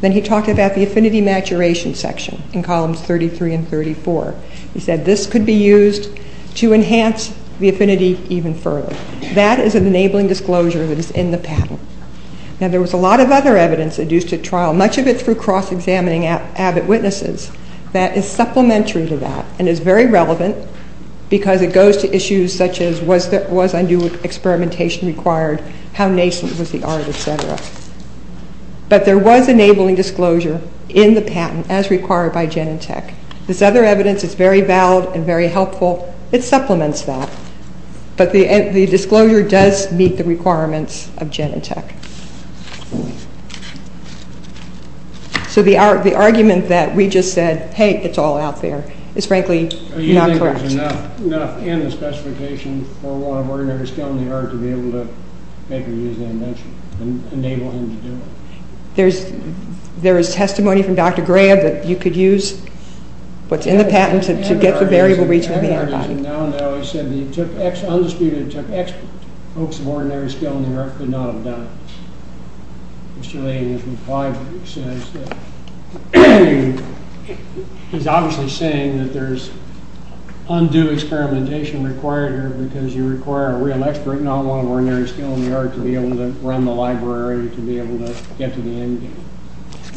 Then he talked about the affinity maturation section in columns 33 and 34. He said this could be used to enhance the affinity even further. That is enabling disclosure that is in the patent. Now, there was a lot of other evidence that used to trial, much of it through cross-examining Abbott witnesses, that is supplementary to that and is very relevant because it goes to issues such as was undue experimentation required, how nascent was the artist, et cetera. But there was enabling disclosure in the patent as required by Genentech. This other evidence is very valid and very helpful. It supplements that. But the disclosure does meet the requirements of Genentech. So the argument that we just said, hey, it's all out there, is frankly not correct. So you think there's enough in the specification for one of our investigators down the road to be able to make or use the invention and enable them to do it? There is testimony from Dr. Graham that you could use what's in the patent to get the variable reach to the other side. I said he took X, undisputed took X, folks of ordinary skill in the art could not have done it. Mr. Lane has complied with it. He's obviously saying that there's undue experimentation required here because you require a real expert, not one of ordinary skill in the art, to be able to run the library, to be able to get to the end.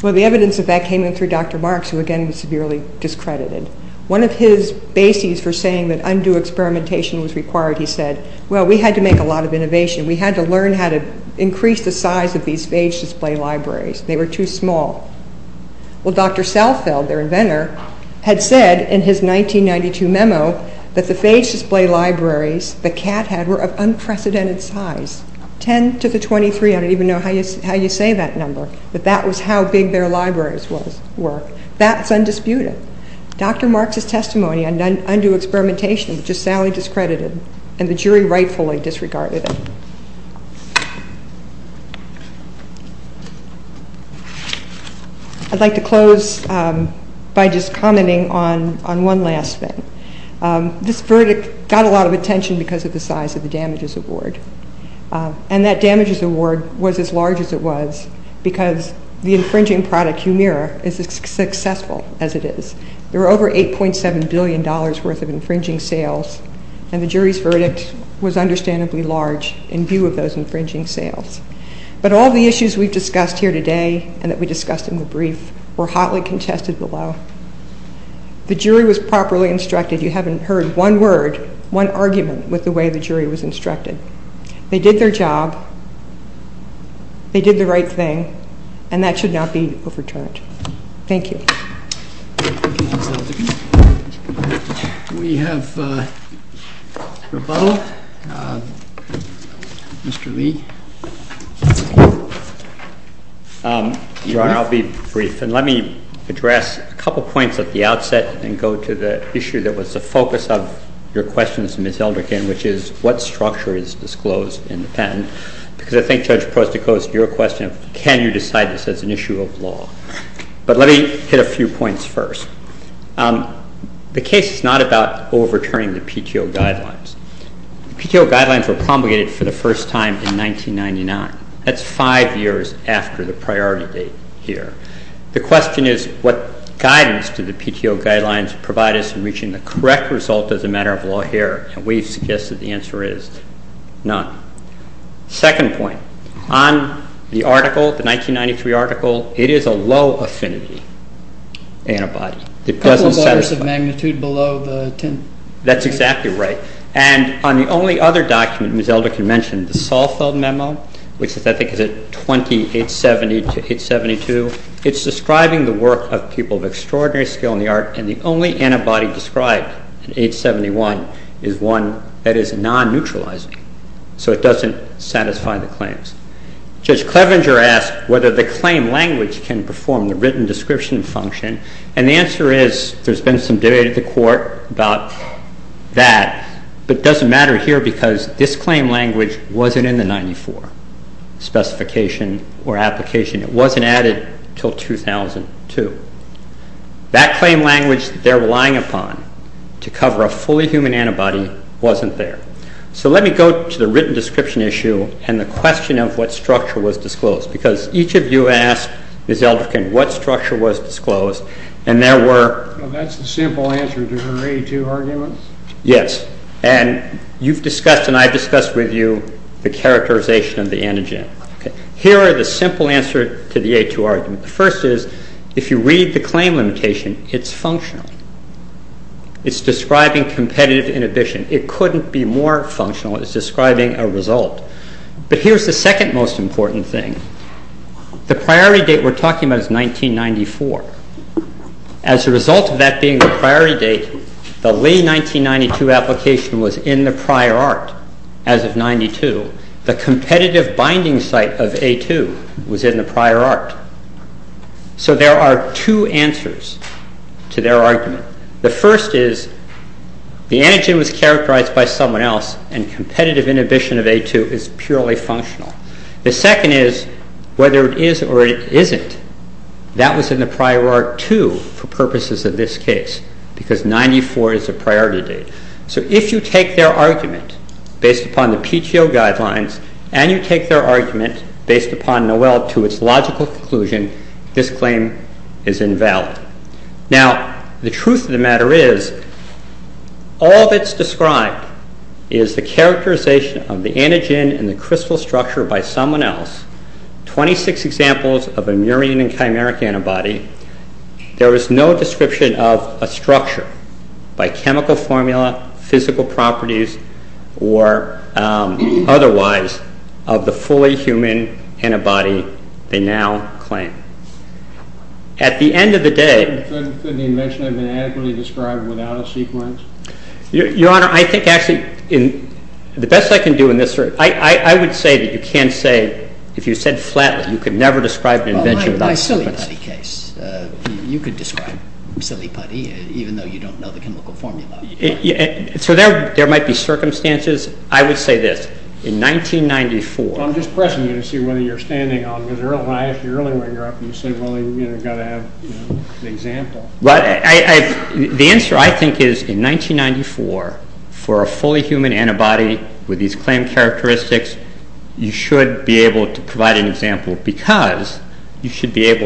Well, the evidence of that came in through Dr. Marks, who again was severely discredited. One of his bases for saying that undue experimentation was required, he said, well, we had to make a lot of innovation. We had to learn how to increase the size of these page display libraries. They were too small. Well, Dr. Southfield, their inventor, had said in his 1992 memo that the page display libraries that Cat had were of unprecedented size, 10 to the 23. I don't even know how you say that number, but that was how big their libraries were. That's undisputed. Dr. Marks' testimony on undue experimentation is just sadly discredited and the jury rightfully disregarded it. I'd like to close by just commenting on one last thing. This verdict got a lot of attention because of the size of the damages award, and that damages award was as large as it was because the infringing product, Humira, is as successful as it is. There were over $8.7 billion worth of infringing sales, in view of those infringing sales. But all the issues we've discussed here today and that we discussed in the brief were hotly contested below. The jury was properly instructed. You haven't heard one word, one argument with the way the jury was instructed. They did their job. They did the right thing, and that should not be overturned. Thank you. Do we have a follow-up? Mr. Lee. Your Honor, I'll be brief, and let me address a couple points at the outset and go to the issue that was the focus of your questions, Ms. Eldrick, and which is what structure is disclosed in the patent? Because I think Judge Prost, it goes to your question of can you decide this as an issue of law? But let me hit a few points first. The case is not about overturning the PTO guidelines. The PTO guidelines were promulgated for the first time in 1999. That's five years after the priority date here. The question is what guidance do the PTO guidelines provide us in reaching the correct result as a matter of law here? And we suggest that the answer is none. Second point, on the article, the 1993 article, it is a low affinity antibody. It doesn't satisfy. A couple bars of magnitude below 10. That's exactly right. And on the only other document Ms. Eldrick mentioned, the Saalfeld Memo, which I think is at 2870 to 872, it's describing the work of people of extraordinary skill in the art, and the only antibody described in 871 is one that is non-neutralizing. So it doesn't satisfy the claims. Judge Clevenger asked whether the claim language can perform the written description function. And the answer is there's been some debate in the court about that. It doesn't matter here because this claim language wasn't in the 1994 specification or application. It wasn't added until 2002. That claim language they're relying upon to cover a fully human antibody wasn't there. So let me go to the written description issue and the question of what structure was disclosed. Because each of you asked Ms. Eldrick what structure was disclosed, and there were... Well, that's the simple answer to the A2 argument. Yes. And you've discussed and I've discussed with you the characterization of the antigen. Here are the simple answers to the A2 argument. The first is, if you read the claim limitation, it's functional. It's describing competitive inhibition. It couldn't be more functional. It's describing a result. But here's the second most important thing. The priority date we're talking about is 1994. As a result of that being the priority date, the Lee 1992 application was in the prior art as of 92. The competitive binding site of A2 was in the prior art. So there are two answers to their argument. The first is, the antigen was characterized by someone else and competitive inhibition of A2 is purely functional. The second is, whether it is or it isn't, that was in the prior art too for purposes of this case because 94 is the priority date. So if you take their argument based upon the PTO guidelines and you take their argument based upon Noel to its logical conclusion, this claim is invalid. Now, the truth of the matter is, all that's described is the characterization of the antigen and the crystal structure by someone else, 26 examples of a murine and chimeric antibody. There is no description of a structure by chemical formula, physical properties, or otherwise of the fully human antibody they now claim. At the end of the day... Could you mention an antibody described without a sequence? Your Honor, I think actually the best I can do in this sort of... I would say that you can't say, if you said flatly, you could never describe... You could describe silly putty even though you don't know the chemical formula. So there might be circumstances. I would say this. In 1994... I'm just pressing you to see whether you're standing on the real high. If you're really where you're at, you've got to have an example. The answer, I think, is in 1994, for a fully human antibody with these you should be able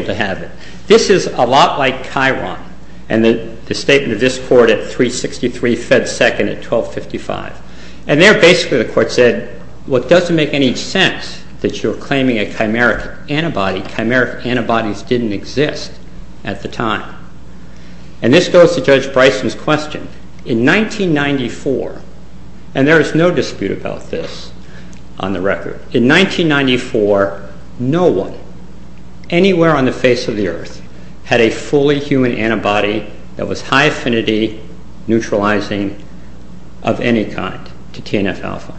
to have it. This is a lot like Chiron and the statement of this court at 363 FedSecond at 1255. And there basically the court said, well, it doesn't make any sense that you're claiming a chimeric antibody. Chimeric antibodies didn't exist at the time. And this goes to Judge Bryson's question. In 1994... And there is no dispute about this on the record. In 1994, no one anywhere on the face of the earth had a fully human antibody that was high affinity neutralizing of any kind to TNF-alpha.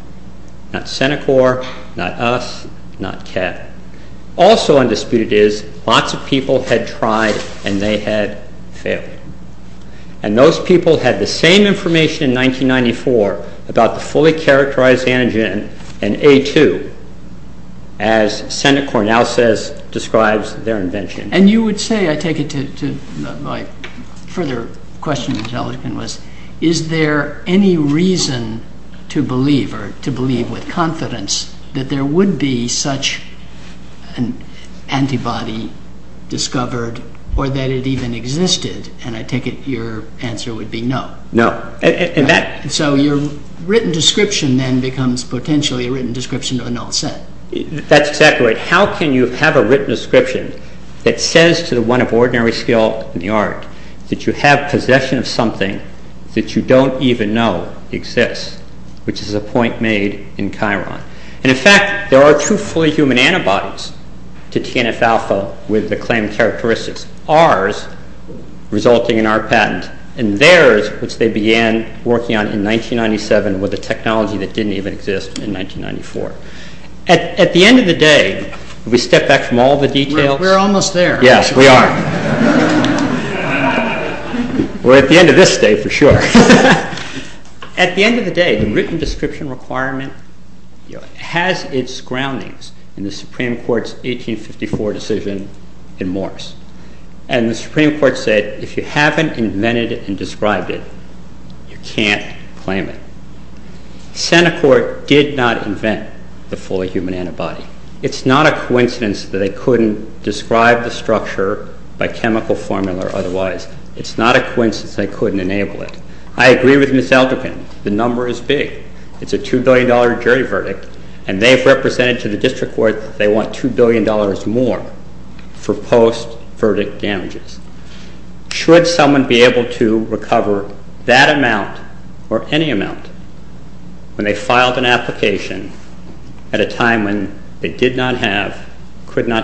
Not CENICOR, not us, not CHET. Also undisputed is lots of people had tried and they had failed. And those people had the same information in 1994 about the fully characterized antigen in A2, as CENICOR now says, describes their invention. And you would say, I take it to, like, further question you'd tell us, is there any reason to believe or to believe with confidence that there would be such an antibody discovered or that it even existed? And I take it your answer would be no. No. So your written description then becomes potentially a written description of an offset. That's exactly right. How can you have a written description that says to the one of ordinary skill in the art that you have possession of something that you don't even know exists, which is a point made in Chiron. And in fact, there are two fully human antibodies to TNF-alpha with the claimed characteristics. Ours resulting in our patent. And theirs, which they began working on in 1997 with a technology that didn't even exist in 1994. At the end of the day, we step back from all the details. We're almost there. Yes, we are. Well, at the end of this day, for sure. At the end of the day, the written description requirement has its groundings in the Supreme Court's 1854 decision in Morse. And the Supreme Court said, if you haven't invented and described it, you can't claim it. Centifort did not invent the fully human antibody. It's not a coincidence that they couldn't describe the structure by chemical formula otherwise. It's not a coincidence they couldn't enable it. I agree with Ms. Alderman, the number is big. It's a $2 billion jury verdict. And they've represented to the district court that they want $2 billion more for post-verdict damages. Should someone be able to recover that amount or any amount when they filed an application at a time when they did not have, could not claim,